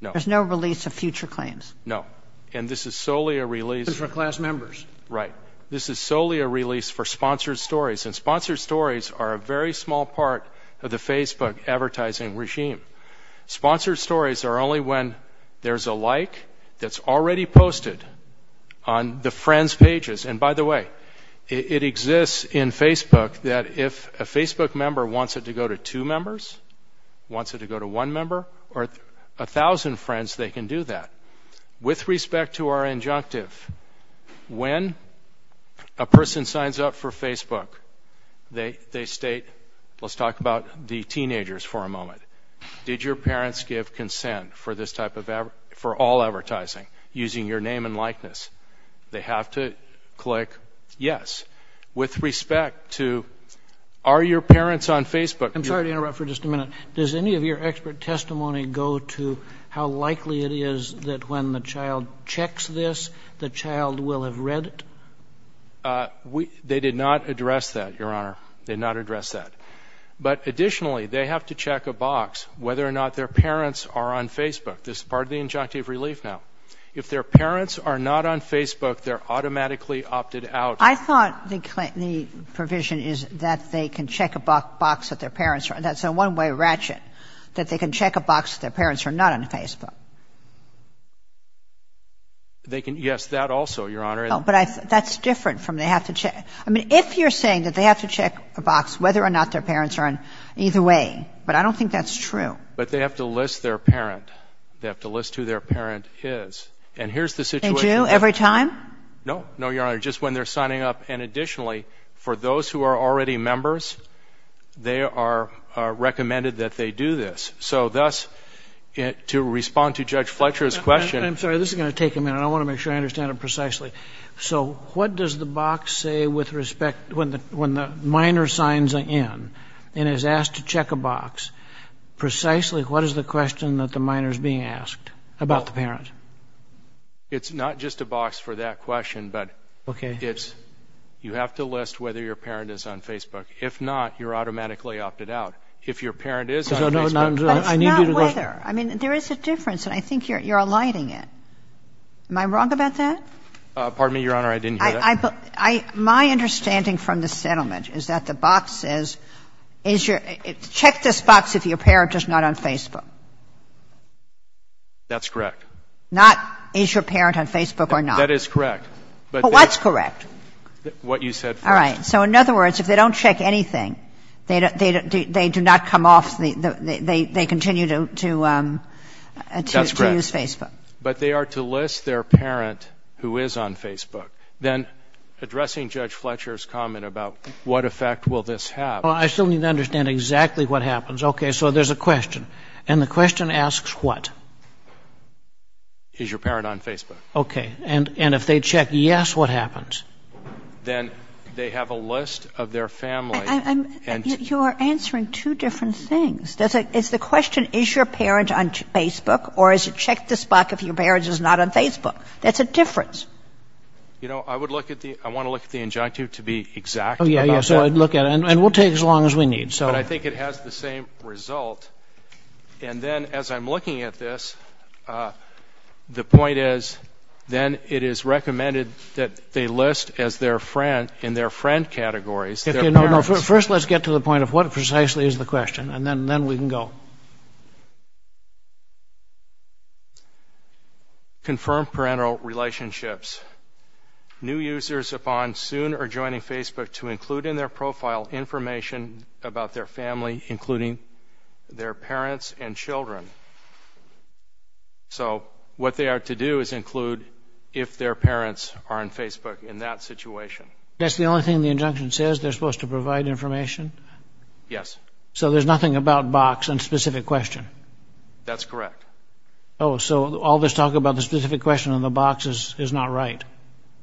no. There's no release of future claims? No, and this is solely a release. This is for class members? Right. This is solely a release for sponsored stories, and sponsored stories are a very small part of the Facebook advertising regime. Sponsored stories are only when there's a like that's already posted on the friends' pages. And, by the way, it exists in Facebook that if a Facebook member wants it to go to two members, wants it to go to one member, or 1,000 friends, they can do that. With respect to our injunctive, when a person signs up for Facebook, they state, let's talk about the teenagers for a moment, did your parents give consent for all advertising using your name and likeness? They have to click yes. With respect to are your parents on Facebook? I'm sorry to interrupt for just a minute. Does any of your expert testimony go to how likely it is that when the child checks this, the child will have read it? They did not address that, Your Honor. They did not address that. But, additionally, they have to check a box whether or not their parents are on Facebook. This is part of the injunctive relief now. If their parents are not on Facebook, they're automatically opted out. I thought the provision is that they can check a box that their parents are on. That's a one-way ratchet, that they can check a box that their parents are not on Facebook. Yes, that also, Your Honor. But that's different from they have to check. I mean, if you're saying that they have to check a box whether or not their parents are on, either way, but I don't think that's true. But they have to list their parent. They have to list who their parent is. And here's the situation. They do every time? No. No, Your Honor. Just when they're signing up. And, additionally, for those who are already members, they are recommended that they do this. So, thus, to respond to Judge Fletcher's question. I'm sorry. This is going to take a minute. I want to make sure I understand it precisely. So what does the box say with respect, when the minor signs in and is asked to check a box, precisely what is the question that the minor is being asked about the parent? It's not just a box for that question. Okay. But you have to list whether your parent is on Facebook. If not, you're automatically opted out. If your parent is on Facebook. No, no, no. Not whether. I mean, there is a difference, and I think you're alighting it. Am I wrong about that? Pardon me, Your Honor. I didn't hear that. My understanding from the settlement is that the box says, check this box if your parent is not on Facebook. That's correct. Not, is your parent on Facebook or not. That is correct. But what's correct? What you said first. All right. So, in other words, if they don't check anything, they do not come off, they continue to use Facebook. That's correct. But they are to list their parent who is on Facebook. Then, addressing Judge Fletcher's comment about what effect will this have. Well, I still need to understand exactly what happens. Okay. So there's a question. And the question asks what? Is your parent on Facebook? Okay. And if they check yes, what happens? Then they have a list of their family. You are answering two different things. Is the question, is your parent on Facebook, or is it check this box if your parent is not on Facebook? That's a difference. You know, I would look at the, I want to look at the injunctive to be exact. Oh, yeah, yeah. So I'd look at it. And we'll take as long as we need. But I think it has the same result. And then, as I'm looking at this, the point is then it is recommended that they list in their friend categories. First, let's get to the point of what precisely is the question. And then we can go. Confirmed parental relationships. New users upon soon adjoining Facebook to include in their profile information about their family, including their parents and children. So what they are to do is include if their parents are on Facebook in that situation. That's the only thing the injunction says? They're supposed to provide information? Yes. So there's nothing about box and specific question? That's correct. Oh, so all this talk about the specific question and the box is not right.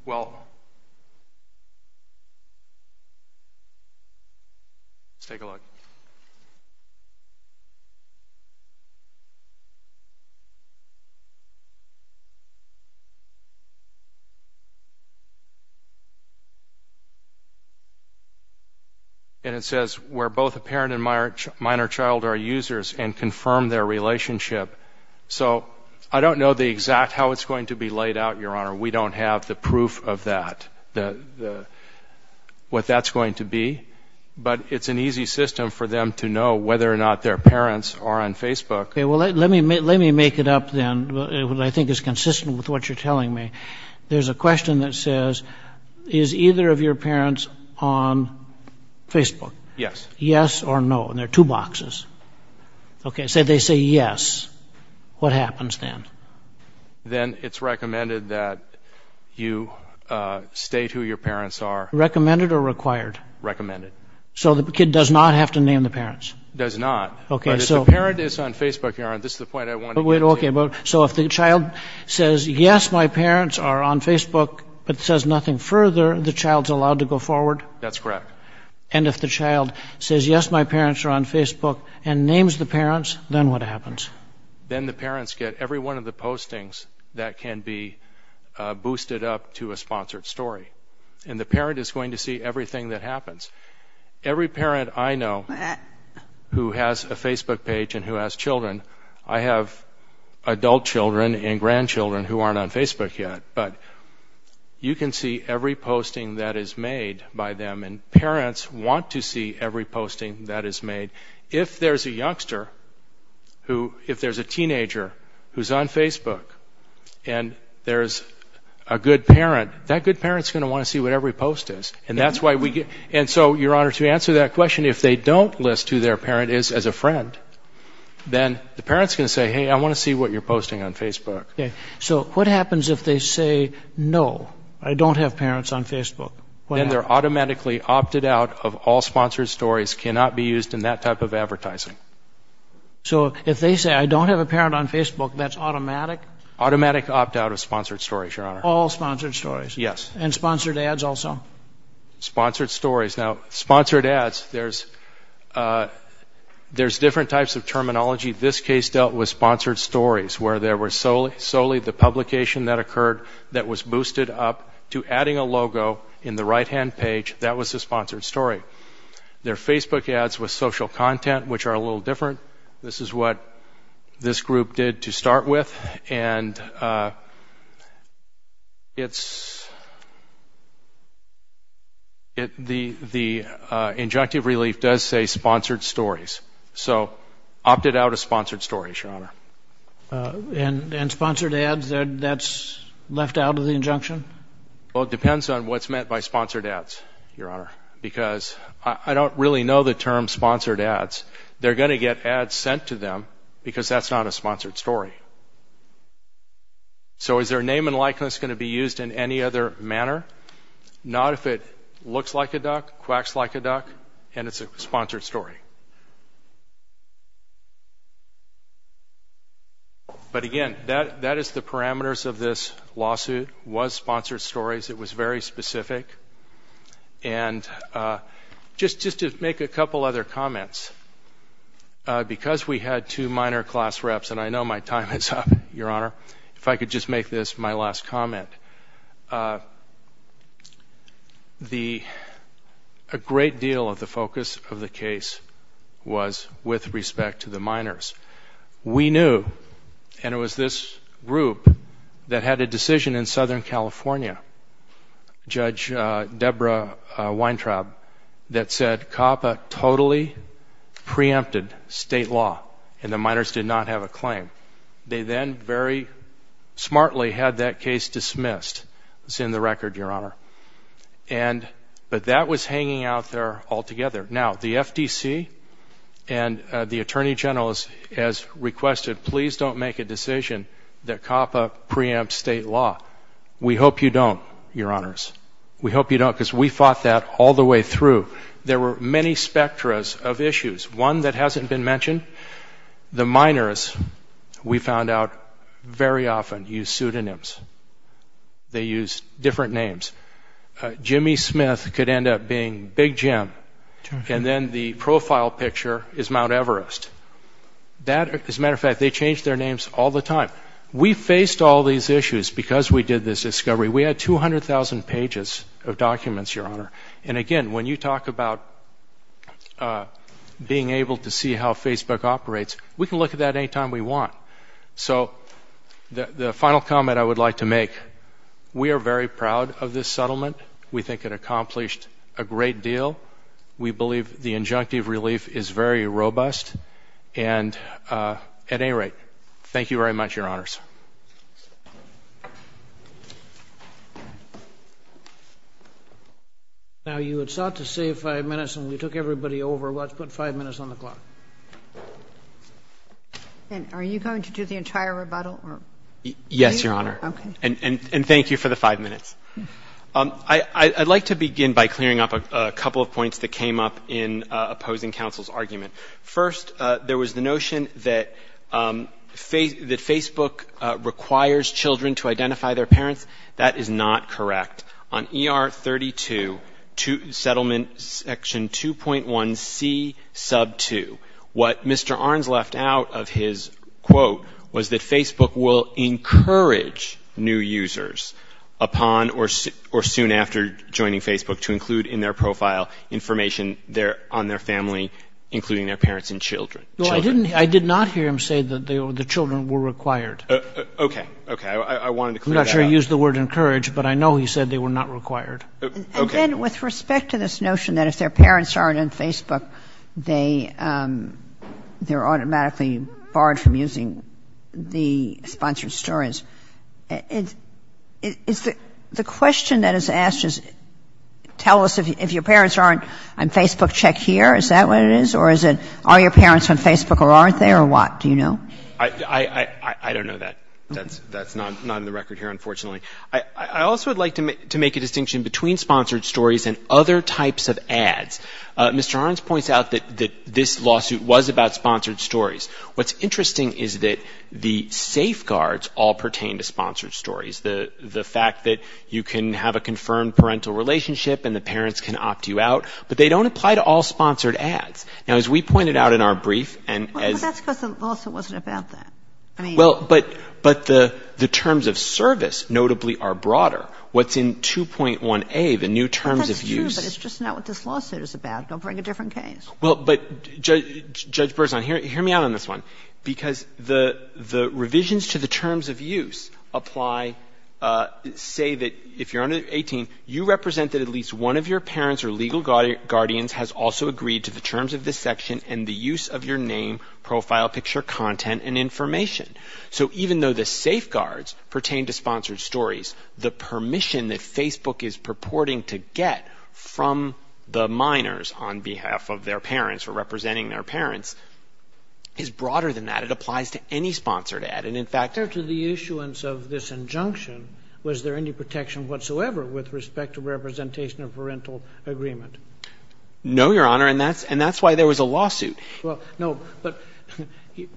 Well, let's take a look. And it says where both the parent and minor child are users and confirm their relationship. So I don't know the exact how it's going to be laid out, Your Honor. We don't have the proof of that, what that's going to be. But it's an easy system for them to know whether or not their parents are on Facebook. Well, let me make it up then. I think it's consistent with what you're telling me. There's a question that says is either of your parents on Facebook? Yes. Yes or no. And there are two boxes. Okay. So they say yes. What happens then? Then it's recommended that you state who your parents are. Recommended or required? Recommended. So the kid does not have to name the parents? Does not. But if the parent is on Facebook, Your Honor, this is the point I wanted to make. Okay. So if the child says yes, my parents are on Facebook, but says nothing further, the child's allowed to go forward? That's correct. And if the child says yes, my parents are on Facebook and names the parents, then what happens? Then the parents get every one of the postings that can be boosted up to a sponsored story. And the parent is going to see everything that happens. Every parent I know who has a Facebook page and who has children, I have adult children and grandchildren who aren't on Facebook yet, but you can see every posting that is made by them, and parents want to see every posting that is made. If there's a youngster who – if there's a teenager who's on Facebook and there's a good parent, that good parent's going to want to see what every post is. And that's why we get – and so, Your Honor, to answer that question, if they don't list who their parent is as a friend, then the parent's going to say, hey, I want to see what you're posting on Facebook. Okay. So what happens if they say no, I don't have parents on Facebook? Then they're automatically opted out of all sponsored stories, cannot be used in that type of advertising. So if they say I don't have a parent on Facebook, that's automatic? Automatic opt-out of sponsored stories, Your Honor. All sponsored stories? Yes. And sponsored ads also? Sponsored stories. Now, sponsored ads, there's different types of terminology. This case dealt with sponsored stories, where there was solely the publication that occurred that was boosted up to adding a logo in the right-hand page. That was the sponsored story. There are Facebook ads with social content, which are a little different. This is what this group did to start with, and it's – the injunctive relief does say sponsored stories. So opted out of sponsored stories, Your Honor. And sponsored ads, that's left out of the injunction? Well, it depends on what's meant by sponsored ads, Your Honor, because I don't really know the term sponsored ads. They're going to get ads sent to them because that's not a sponsored story. So is their name and likeness going to be used in any other manner? Not if it looks like a duck, quacks like a duck, and it's a sponsored story. But again, that is the parameters of this lawsuit, was sponsored stories. It was very specific. And just to make a couple other comments, because we had two minor class reps, and I know my time is up, Your Honor, if I could just make this my last comment. A great deal of the focus of the case was with respect to the minors. We knew, and it was this group that had a decision in Southern California. Judge Deborah Weintraub, that said COPPA totally preempted state law, and the minors did not have a claim. They then very smartly had that case dismissed. It's in the record, Your Honor. But that was hanging out there altogether. Now, the FTC and the Attorney General has requested, please don't make a decision that COPPA preempts state law. We hope you don't, Your Honors. We hope you don't, because we fought that all the way through. There were many spectras of issues. One that hasn't been mentioned, the minors, we found out, very often use pseudonyms. They use different names. Jimmy Smith could end up being Big Jim, and then the profile picture is Mount Everest. As a matter of fact, they change their names all the time. We faced all these issues because we did this discovery. We had 200,000 pages of documents, Your Honor. And again, when you talk about being able to see how Facebook operates, we can look at that any time we want. So the final comment I would like to make, we are very proud of this settlement. We think it accomplished a great deal. We believe the injunctive relief is very robust. At any rate, thank you very much, Your Honors. Now you had sought to save five minutes, and we took everybody over. Let's put five minutes on the clock. Are you going to do the entire rebuttal? Yes, Your Honor. And thank you for the five minutes. I'd like to begin by clearing up a couple of points that came up in opposing counsel's argument. First, there was the notion that Facebook requires children to identify their parents. That is not correct. On ER 32, Settlement Section 2.1c sub 2, what Mr. Arns left out of his quote was that Facebook will encourage new users upon or soon after joining Facebook to include in their profile information on their family, including their parents and children. Well, I did not hear him say that the children were required. Okay. Okay. I wanted to clear that up. I'm not sure he used the word encourage, but I know he said they were not required. Okay. And with respect to this notion that if their parents aren't on Facebook, they're automatically barred from using the sponsored stories, the question that is asked is tell us if your parents aren't on Facebook, check here. Is that what it is? Or is it are your parents on Facebook or aren't they or what? Do you know? I don't know that. That's not on the record here, unfortunately. I also would like to make a distinction between sponsored stories and other types of ads. Mr. Arns points out that this lawsuit was about sponsored stories. What's interesting is that the safeguards all pertain to sponsored stories, the fact that you can have a confirmed parental relationship and the parents can opt you out, but they don't apply to all sponsored ads. Now, as we pointed out in our brief and as — But the lawsuit wasn't about that. Well, but the terms of service notably are broader. What's in 2.1A, the new terms of use — That's true, but it's just not what this lawsuit is about. They'll bring a different case. Well, but Judge Berzon, hear me out on this one, because the revisions to the terms of use apply — say that if you're under 18, you represent that at least one of your parents or legal guardians has also agreed to the terms of this section and the use of your name, profile picture, content, and information. So even though the safeguards pertain to sponsored stories, the permission that Facebook is purporting to get from the minors on behalf of their parents or representing their parents is broader than that. It applies to any sponsored ad, and in fact — After the issuance of this injunction, was there any protection whatsoever with respect to representation of parental agreement? No, Your Honor, and that's why there was a lawsuit. Well, no, but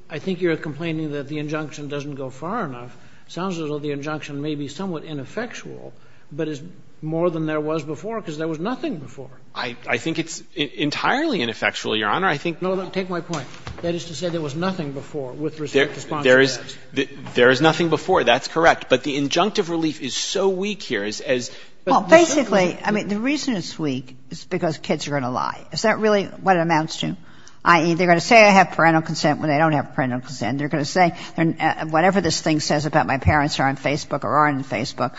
I think you're complaining that the injunction doesn't go far enough. It sounds as though the injunction may be somewhat ineffectual, but it's more than there was before because there was nothing before. I think it's entirely ineffectual, Your Honor. I think — No, take my point. That is to say there was nothing before with respect to sponsored ads. There is nothing before. That's correct. But the injunctive relief is so weak here as — Well, basically, I mean, the reason it's weak is because kids are going to lie. Is that really what it amounts to? I.e., they're going to say I have parental consent when they don't have parental consent. And they're going to say whatever this thing says about my parents are on Facebook or are on Facebook.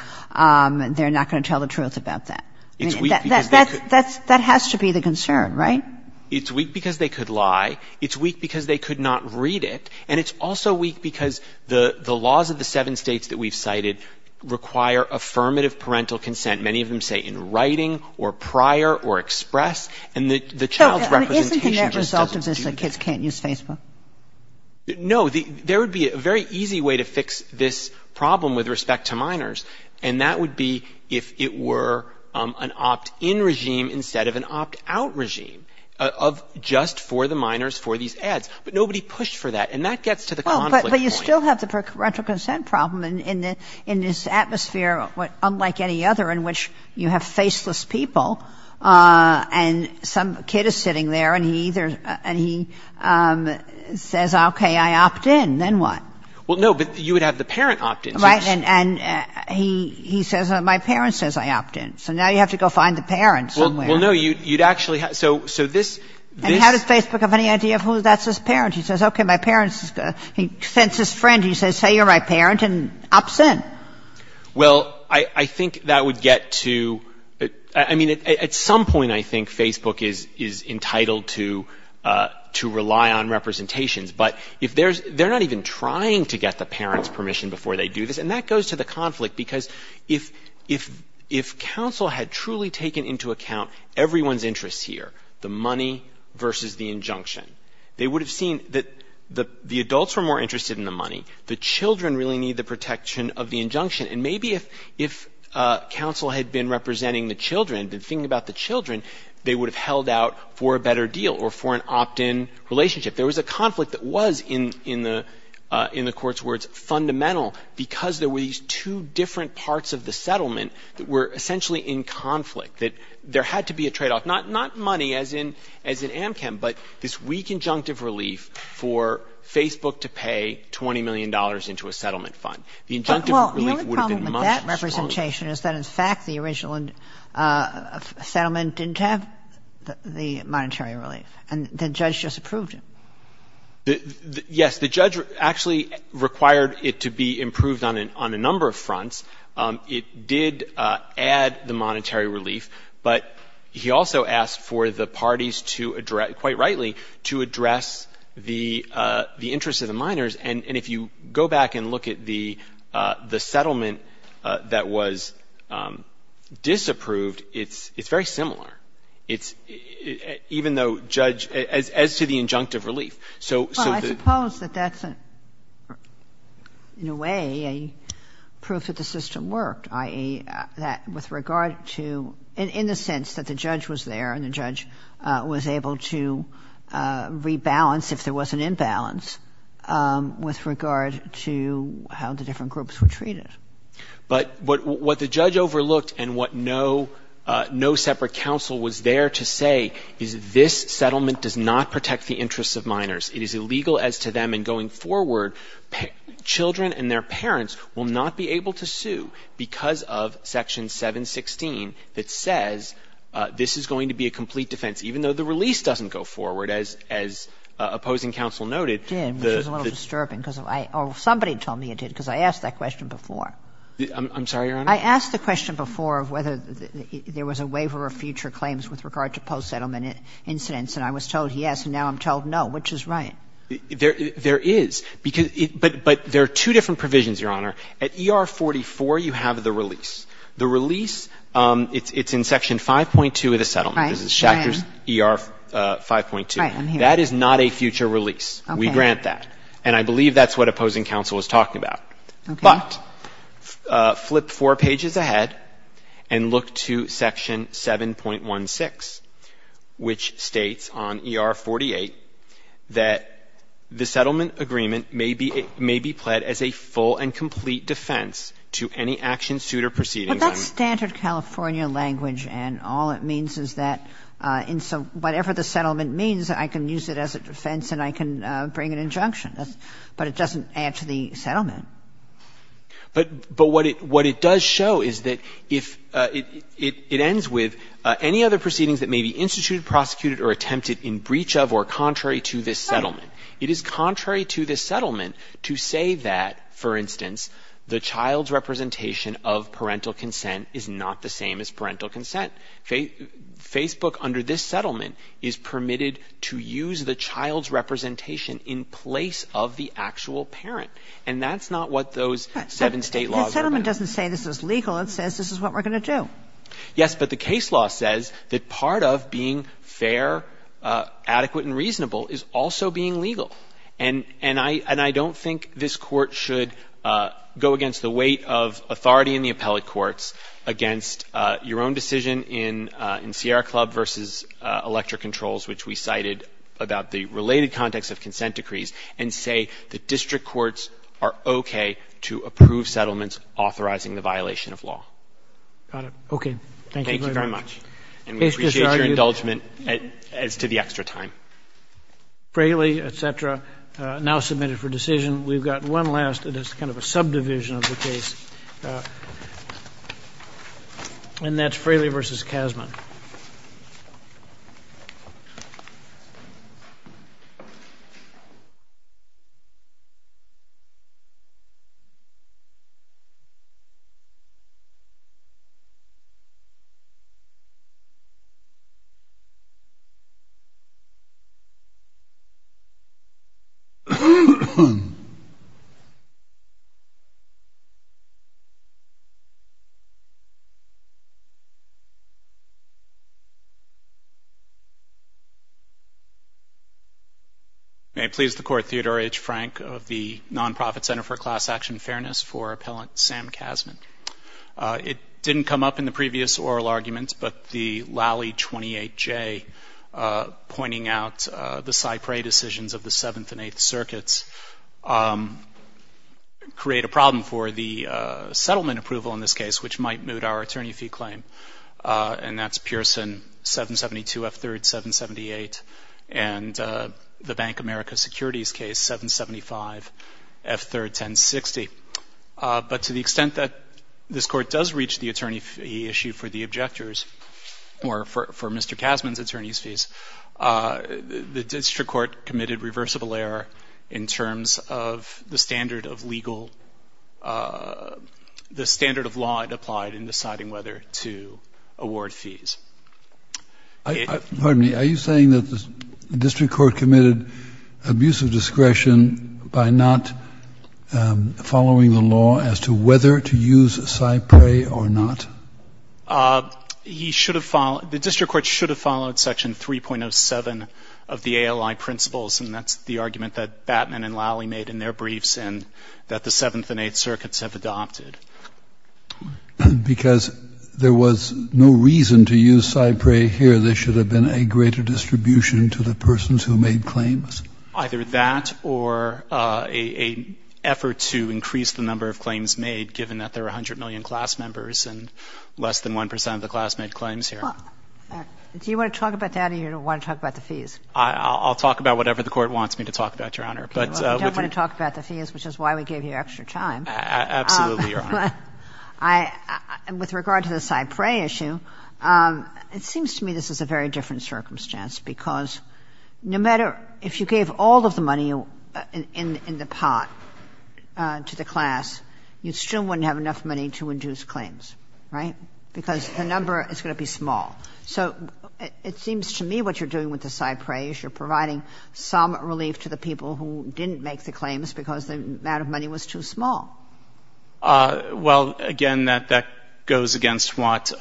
They're not going to tell the truth about that. That has to be the concern, right? It's weak because they could lie. It's weak because they could not read it. And it's also weak because the laws of the seven states that we've cited require affirmative parental consent, many of them say in writing or prior or express. And the child's representation — So isn't the net result of this that kids can't use Facebook? No. There would be a very easy way to fix this problem with respect to minors. And that would be if it were an opt-in regime instead of an opt-out regime of just for the minors for these ads. But nobody pushed for that. And that gets to the conflict point. But you still have the parental consent problem in this atmosphere unlike any other in which you have faceless people and some kid is sitting there and he says, okay, I opt-in. Then what? Well, no, but you would have the parent opt-in. Right. And he says, well, my parent says I opt-in. So now you have to go find the parent somewhere. Well, no, you'd actually have — And how does Facebook have any idea of who that's his parent? He says, okay, my parent's — he sends his friend. He says, hey, you're my parent and opts in. Well, I think that would get to — I mean, at some point I think Facebook is entitled to rely on representation. But they're not even trying to get the parent's permission before they do this. And that goes to the conflict because if counsel had truly taken into account everyone's interests here, the money versus the injunction, they would have seen that the adults are more interested in the money. The children really need the protection of the injunction. And maybe if counsel had been representing the children, been thinking about the children, they would have held out for a better deal or for an opt-in relationship. There was a conflict that was, in the court's words, fundamental because there were these two different parts of the settlement that were essentially in conflict, that there had to be a tradeoff. Not money, as in Amchem, but this weak injunctive relief for Facebook to pay $20 million into a settlement fund. Well, the only problem with that representation is that, in fact, the original settlement didn't have the monetary relief, and the judge just approved it. Yes, the judge actually required it to be improved on a number of fronts. It did add the monetary relief, but he also asked for the parties to address, quite rightly, to address the interests of the minors. And if you go back and look at the settlement that was disapproved, it's very similar, as to the injunctive relief. Well, I suppose that that's, in a way, a proof that the system worked, i.e., in the sense that the judge was there and the judge was able to rebalance if there was an imbalance with regard to how the different groups were treated. But what the judge overlooked and what no separate counsel was there to say is this settlement does not protect the interests of minors. It is illegal as to them, and going forward, children and their parents will not be able to sue because of Section 716 that says this is going to be a complete defense, even though the release doesn't go forward, as opposing counsel noted. It did. It was a little disturbing. Somebody told me it did, because I asked that question before. I'm sorry, Your Honor? I asked the question before of whether there was a waiver of future claims with regard to post-settlement incidents, and I was told yes, and now I'm told no, which is right. There is, but there are two different provisions, Your Honor. At ER44, you have the release. The release, it's in Section 5.2 of the settlement. Right. This is Schachter's ER 5.2. Right. That is not a future release. We grant that, and I believe that's what opposing counsel was talking about. But flip four pages ahead and look to Section 7.16, which states on ER 48 that the settlement agreement may be pled as a full and complete defense to any action, suit, or proceeding. But that's standard California language, and all it means is that whatever the settlement means, I can use it as a defense and I can bring an injunction, but it doesn't add to the settlement. But what it does show is that it ends with any other proceedings that may be instituted, prosecuted, or attempted in breach of or contrary to this settlement. It is contrary to this settlement to say that, for instance, the child's representation of parental consent is not the same as parental consent. Facebook under this settlement is permitted to use the child's representation in place of the actual parent, and that's not what those seven state laws are. The settlement doesn't say this is legal. It says this is what we're going to do. Yes, but the case law says that part of being fair, adequate, and reasonable is also being legal. And I don't think this court should go against the weight of authority in the appellate courts against your own decision in Sierra Club versus Elector Controls, which we cited, about the related context of consent decrees and say that district courts are okay to approve settlements authorizing the violation of law. Okay. Thank you very much. And we appreciate your indulgement as to the extra time. Frehley, et cetera, now submitted for decision. We've got one last. It is kind of a subdivision of the case, and that's Frehley versus Kazman. May it please the Court, Theodore H. Frank of the Nonprofit Center for Class Action and Fairness for Appellant Sam Kazman. It didn't come up in the previous oral argument, but the Lally 28J pointing out the Cypre decisions of the Seventh and Eighth Circuits create a problem for the settlement approval in this case, which might moot our attorney fee claim, and that's Pearson 772 F3rd 778 and the Bank of America Securities case 775 F3rd 1060. But to the extent that this Court does reach the attorney fee issue for the objectors or for Mr. Kazman's attorney's fees, the district court committed reversible error in terms of the standard of legal, the standard of law it applied in deciding whether to award fees. Are you saying that the district court committed abuse of discretion by not following the law as to whether to use Cypre or not? The district court should have followed Section 3.07 of the ALI principles, and that's the argument that Batman and Lally made in their briefs and that the Seventh and Eighth Circuits have adopted. Because there was no reason to use Cypre here, there should have been a greater distribution to the persons who made claims? Either that or an effort to increase the number of claims made, given that there are 100 million class members and less than 1% of the class made claims here. Do you want to talk about that or you don't want to talk about the fees? I'll talk about whatever the Court wants me to talk about, Your Honor. You don't want to talk about the fees, which is why we gave you extra time. Absolutely, Your Honor. With regard to the Cypre issue, it seems to me this is a very different circumstance because no matter if you gave all of the money in the pot to the class, you still wouldn't have enough money to induce claims, right? Because the number is going to be small. So it seems to me what you're doing with the Cypre is you're providing some relief to the people who didn't make the claims because the amount of money was too small. Well, again, that goes against what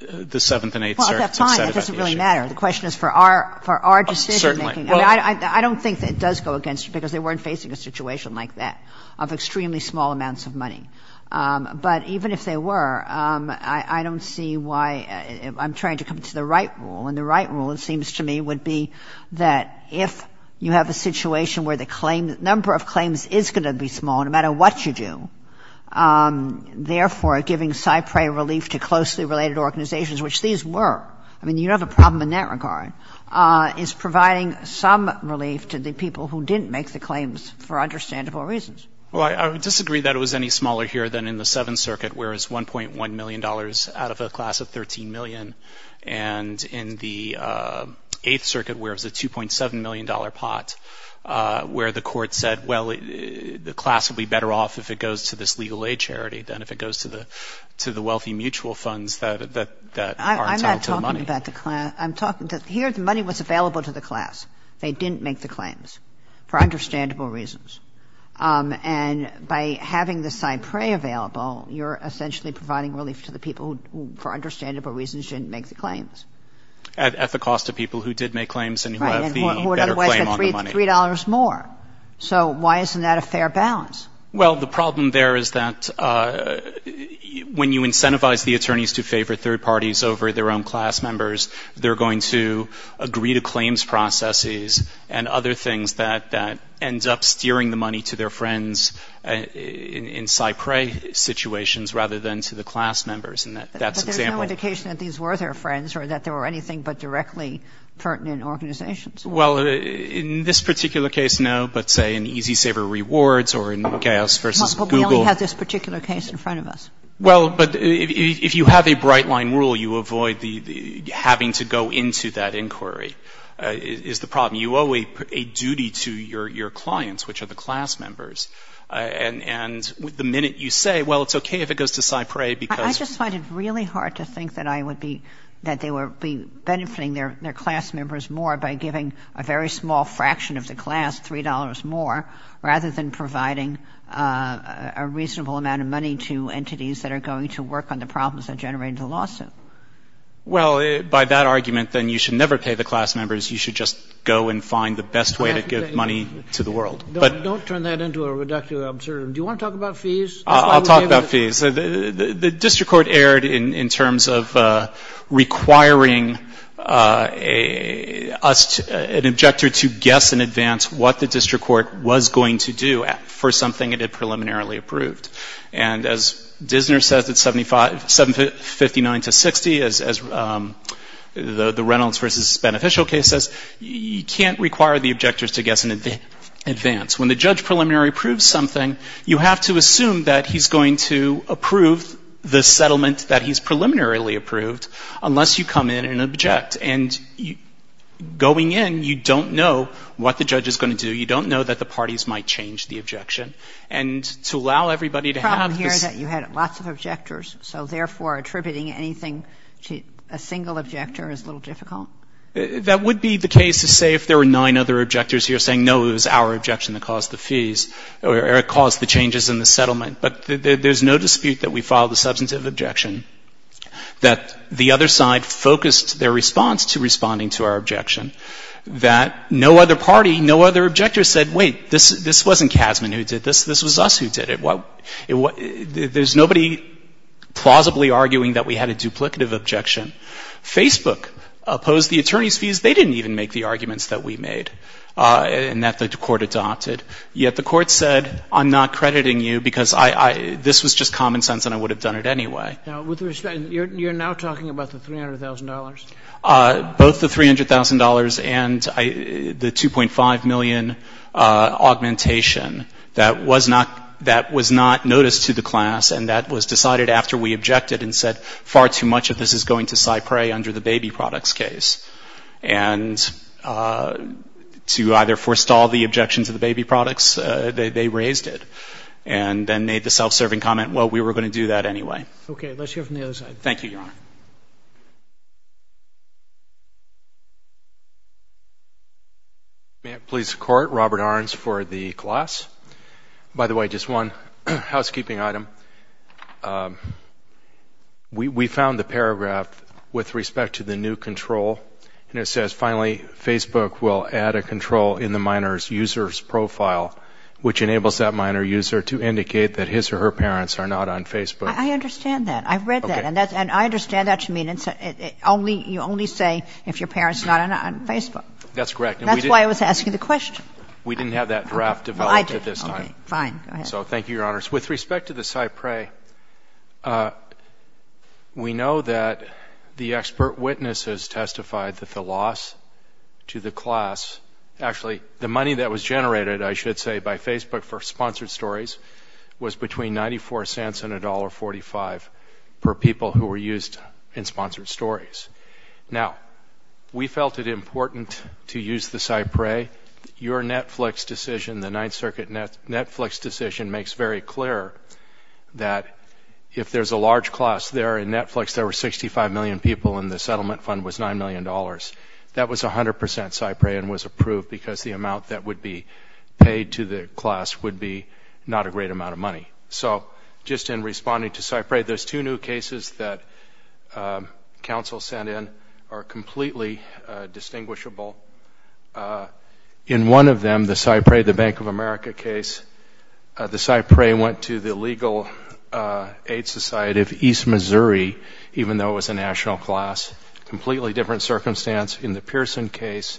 the 7th and 8th Circuit said about the issue. Well, at that time it doesn't really matter. The question is for our decision-making. I don't think it does go against you because they weren't facing a situation like that of extremely small amounts of money. But even if they were, I don't see why I'm trying to come to the right rule, and the right rule, it seems to me, would be that if you have a situation where the number of claims is going to be small no matter what you do, therefore giving Cypre relief to closely related organizations, which these were. I mean, you don't have a problem in that regard. It's providing some relief to the people who didn't make the claims for understandable reasons. Well, I would disagree that it was any smaller here than in the 7th Circuit, where it's $1.1 million out of a class of $13 million, and in the 8th Circuit where it's a $2.7 million pot where the court said, well, the class would be better off if it goes to this legal aid charity than if it goes to the wealthy mutual funds that aren't tied to the money. I'm not talking about the class. Here the money was available to the class. They didn't make the claims for understandable reasons. And by having the Cypre available, you're essentially providing relief to the people who for understandable reasons didn't make the claims. At the cost of people who did make claims and who have the better claim on the money. $3 more. So why isn't that a fair balance? Well, the problem there is that when you incentivize the attorneys to favor third parties over their own class members, they're going to agree to claims processes and other things that end up steering the money to their friends in Cypre situations rather than to the class members. But there's no indication that these were their friends or that they were anything but directly pertinent organizations. Well, in this particular case, no. But say in Easy Saver Rewards or in Chaos versus Google. But we only have this particular case in front of us. Well, but if you have a bright line rule, you avoid having to go into that inquiry is the problem. You owe a duty to your clients, which are the class members. And the minute you say, well, it's okay if it goes to Cypre because... I just find it really hard to think that they would be benefiting their class members more by giving a very small fraction of the class $3 more rather than providing a reasonable amount of money to entities that are going to work on the problems that generate the lawsuit. Well, by that argument, then you should never pay the class members. You should just go and find the best way to give money to the world. Don't turn that into a reductive observation. Do you want to talk about fees? I'll talk about fees. The district court erred in terms of requiring us, an objector, to guess in advance what the district court was going to do for something it had preliminarily approved. And as Dissner says at 759-60, as the Reynolds v. Beneficial case says, you can't require the objectors to guess in advance. When the judge preliminary approves something, you have to assume that he's going to approve the settlement that he's preliminarily approved unless you come in and object. And going in, you don't know what the judge is going to do. You don't know that the parties might change the objection. The problem here is that you had lots of objectors, so therefore attributing anything to a single objector is a little difficult. That would be the case to say if there were nine other objectors here saying, no, it was our objection that caused the fees or caused the changes in the settlement. But there's no dispute that we filed a substantive objection, that the other side focused their response to responding to our objection, that no other party, no other objector said, wait, this wasn't Kasman who did this, this was us who did it. There's nobody plausibly arguing that we had a duplicative objection. Facebook opposed the attorney's fees. They didn't even make the arguments that we made and that the court adopted. Yet the court said, I'm not crediting you because this was just common sense and I would have done it anyway. You're now talking about the $300,000. Both the $300,000 and the $2.5 million augmentation, that was not noticed to the class and that was decided after we objected and said far too much of this is going to side prey under the baby products case. And to either forestall the objection to the baby products, they raised it and then made the self-serving comment, well, we were going to do that anyway. Okay, let's hear from the other side. Thank you, Your Honor. Police Court, Robert Ahrens for the class. By the way, just one housekeeping item. We found the paragraph with respect to the new control. It says, finally, Facebook will add a control in the minor's user's profile, which enables that minor user to indicate that his or her parents are not on Facebook. I understand that. I've read that and I understand that. You only say if your parents are not on Facebook. That's correct. That's why I was asking the question. We didn't have that draft developed at this time. Fine. So thank you, Your Honor. With respect to the side prey, we know that the expert witnesses testified that the loss to the class, actually the money that was generated, I should say, by Facebook for sponsored stories was between $0.94 and $1.45 for people who were used in sponsored stories. Now, we felt it important to use the side prey. Your Netflix decision, the Ninth Circuit Netflix decision, makes very clear that if there's a large class there in Netflix, there were 65 million people and the settlement fund was $9 million. That was 100% side prey and was approved because the amount that would be paid to the class would be not a great amount of money. So just in responding to side prey, those two new cases that counsel sent in are completely distinguishable. In one of them, the side prey, the Bank of America case, the side prey went to the legal aid society of East Missouri, even though it was a national class. Completely different circumstance. In the Pearson case,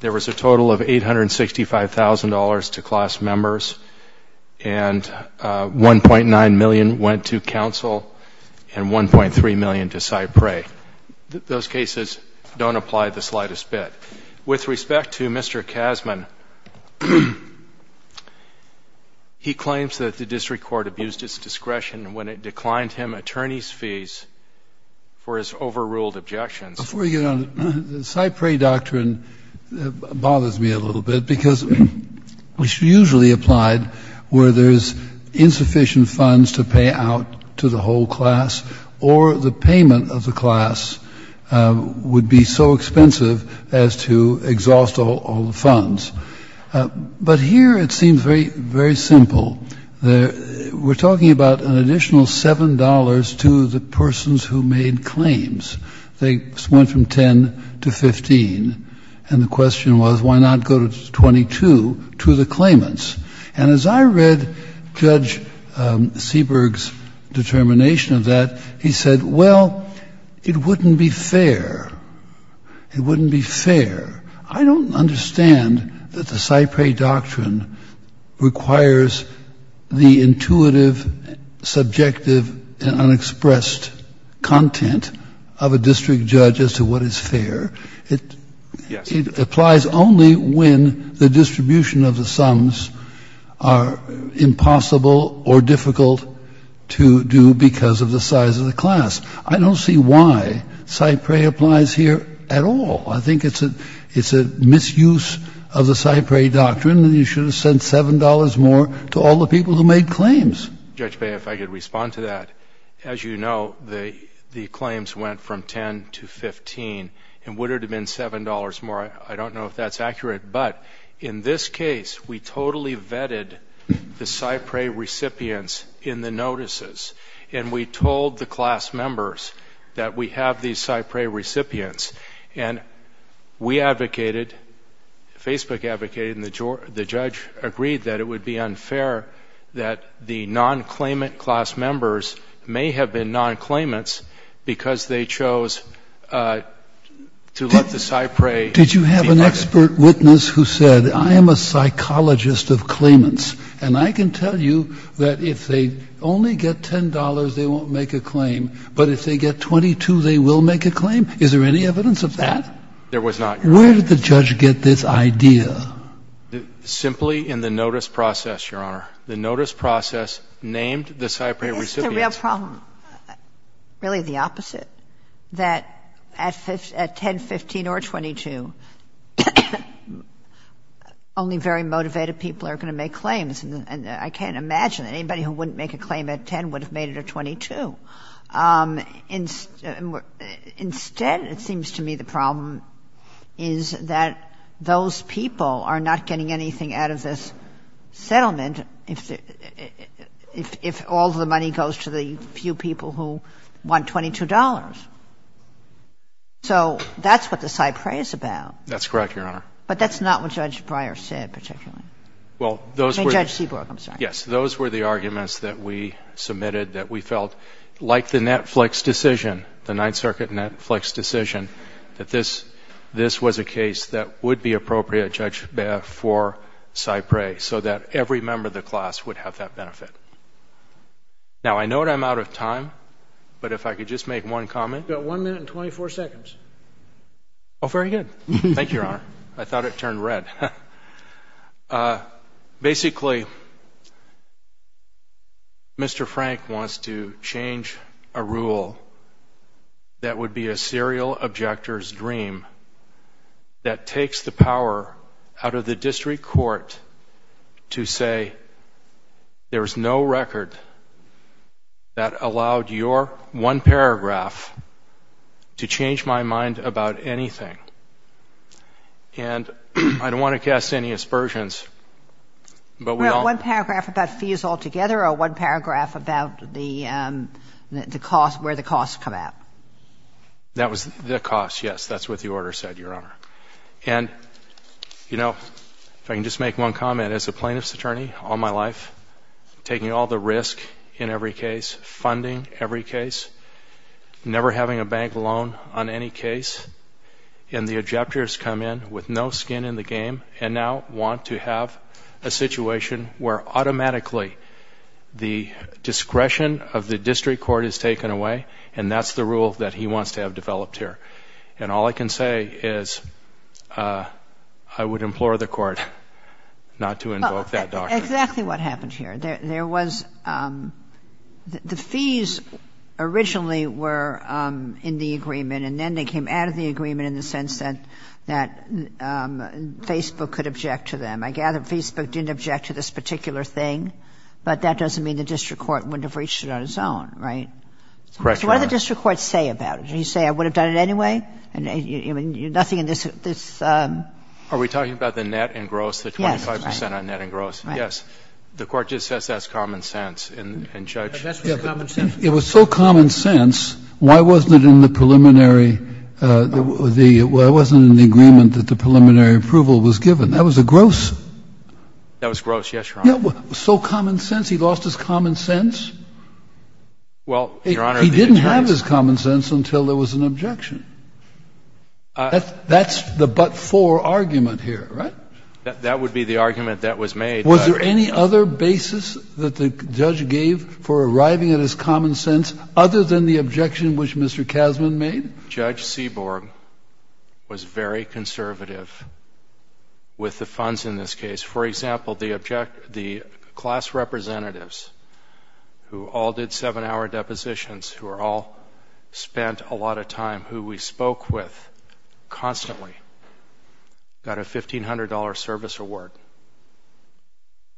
there was a total of $865,000 to class members and $1.9 million went to counsel and $1.3 million to side prey. Those cases don't apply the slightest bit. With respect to Mr. Kazman, he claims that the district court abused its discretion when it declined him attorney's fees for his overruled objections. Before we get on, the side prey doctrine bothers me a little bit because it's usually applied where there's insufficient funds to pay out to the whole class or the payment of the class would be so expensive as to exhaust all the funds. But here it seems very, very simple. We're talking about an additional $7 to the persons who made claims. They went from 10 to 15. And the question was, why not go to 22 to the claimants? And as I read Judge Seberg's determination of that, he said, well, it wouldn't be fair. It wouldn't be fair. I don't understand that the side prey doctrine requires the intuitive, subjective, and unexpressed content of a district judge as to what is fair. It applies only when the distribution of the sums are impossible or difficult to do because of the size of the class. I don't see why side prey applies here at all. I think it's a misuse of the side prey doctrine, and you should have sent $7 more to all the people who made claims. Judge Bain, if I could respond to that. As you know, the claims went from 10 to 15. And would it have been $7 more? I don't know if that's accurate. But in this case, we totally vetted the side prey recipients in the notices, and we told the class members that we have these side prey recipients. And we advocated, Facebook advocated, and the judge agreed that it would be unfair that the non-claimant class members may have been non-claimants because they chose to let the side prey. Did you have an expert witness who said, I am a psychologist of claimants, and I can tell you that if they only get $10, they won't make a claim, but if they get $22, they will make a claim? Is there any evidence of that? There was not. Where did the judge get this idea? Simply in the notice process, Your Honor. The notice process named the side prey recipients. It's a real problem, really the opposite, that at 10, 15, or 22, only very motivated people are going to make claims. And I can't imagine anybody who wouldn't make a claim at 10 would have made it at 22. Instead, it seems to me the problem is that those people are not getting anything out of this settlement if all the money goes to the few people who want $22. So that's what the side prey is about. That's correct, Your Honor. But that's not what Judge Breyer said, particularly. Well, those were the arguments that we submitted that we felt like the Netflix decision, the Ninth Circuit Netflix decision, that this was a case that would be appropriate, Judge, for side prey so that every member of the class would have that benefit. Now, I know that I'm out of time, but if I could just make one comment. You've got one minute and 24 seconds. Oh, very good. Thank you, Your Honor. I thought it turned red. Basically, Mr. Frank wants to change a rule that would be a serial objector's dream that takes the power out of the district court to say, there's no record that allowed your one paragraph to change my mind about anything. And I don't want to cast any aspersions. One paragraph about fees altogether or one paragraph about where the costs come out? The costs, yes. That's what the order said, Your Honor. And, you know, if I can just make one comment. As a plaintiff's attorney all my life, taking all the risk in every case, funding every case, never having a bank loan on any case, and the objectors come in with no skin in the game and now want to have a situation where automatically the discretion of the district court is taken away, and that's the rule that he wants to have developed here. And all I can say is I would implore the court not to invoke that doctrine. Exactly what happened here. There was the fees originally were in the agreement, and then they came out of the agreement in the sense that Facebook could object to them. I gather Facebook didn't object to this particular thing, but that doesn't mean the district court wouldn't have reached it on its own, right? Correct, Your Honor. What did the district court say about it? Did he say, I would have done it anyway? Nothing in this. Are we talking about the net engross, the 25% on net engross? Yes. The court just says that's common sense. It was so common sense, why wasn't it in the preliminary, why wasn't it in the agreement that the preliminary approval was given? That was a gross. That was gross, yes, Your Honor. So common sense, he lost his common sense? Well, Your Honor. He didn't have his common sense until there was an objection. That's the but-for argument here, right? That would be the argument that was made. Was there any other basis that the judge gave for arriving at his common sense other than the objection which Mr. Kasman made? Judge Seaborg was very conservative with the funds in this case. For example, the class representatives who all did seven-hour depositions, who all spent a lot of time, who we spoke with constantly, got a $1,500 service award.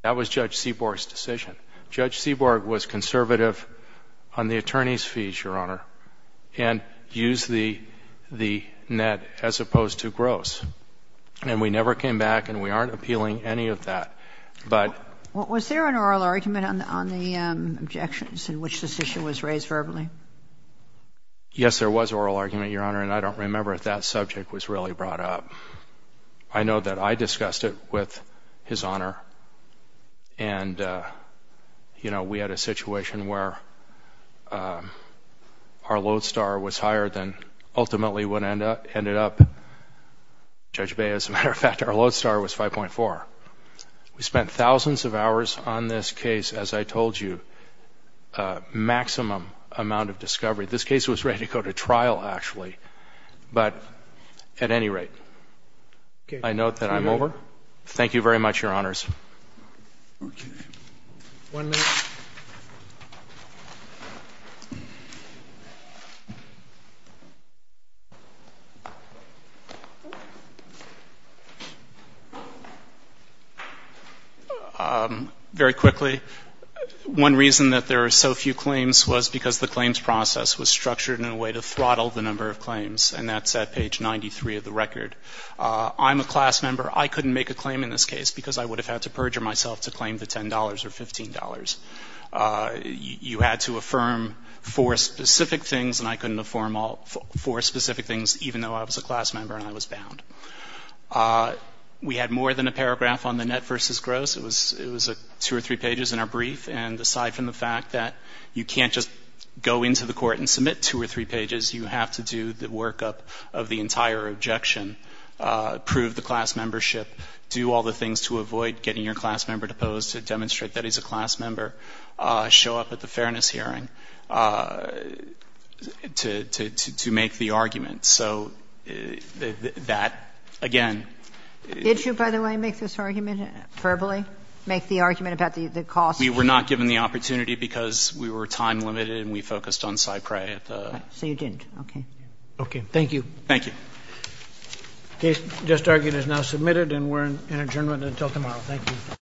That was Judge Seaborg's decision. Judge Seaborg was conservative on the attorney's fees, Your Honor, and used the net as opposed to gross, and we never came back and we aren't appealing any of that. Was there an oral argument on the objections in which this issue was raised verbally? Yes, there was an oral argument, Your Honor, and I don't remember if that subject was really brought up. I know that I discussed it with his Honor, and we had a situation where our lodestar was higher than ultimately what ended up. Judge Bey, as a matter of fact, our lodestar was 5.4. We spent thousands of hours on this case, as I told you, maximum amount of discovery. This case was ready to go to trial, actually, but at any rate, I note that I'm over. Thank you very much, Your Honors. One minute. Very quickly, one reason that there are so few claims was because the claims process was structured in a way to throttle the number of claims, and that's at page 93 of the record. I'm a class member. I couldn't make a claim in this case because I would have had to perjure myself to claim the $10 or $15. You had to affirm four specific things, and I couldn't affirm all four specific things even though I was a class member and I was bound. We had more than a paragraph on the net versus gross. It was two or three pages in our brief, and aside from the fact that you can't just go into the court and submit two or three pages, you have to do the workup of the entire objection, prove the class membership, do all the things to avoid getting your class member deposed to demonstrate that he's a class member, show up at the fairness hearing to make the argument. So that, again — Did you, by the way, make this argument verbally, make the argument about the cost? We were not given the opportunity because we were time-limited and we focused on Cyprea. So you didn't. Okay. Okay. Thank you. Thank you. The case just argued is now submitted, and we're adjourned until tomorrow. Thank you.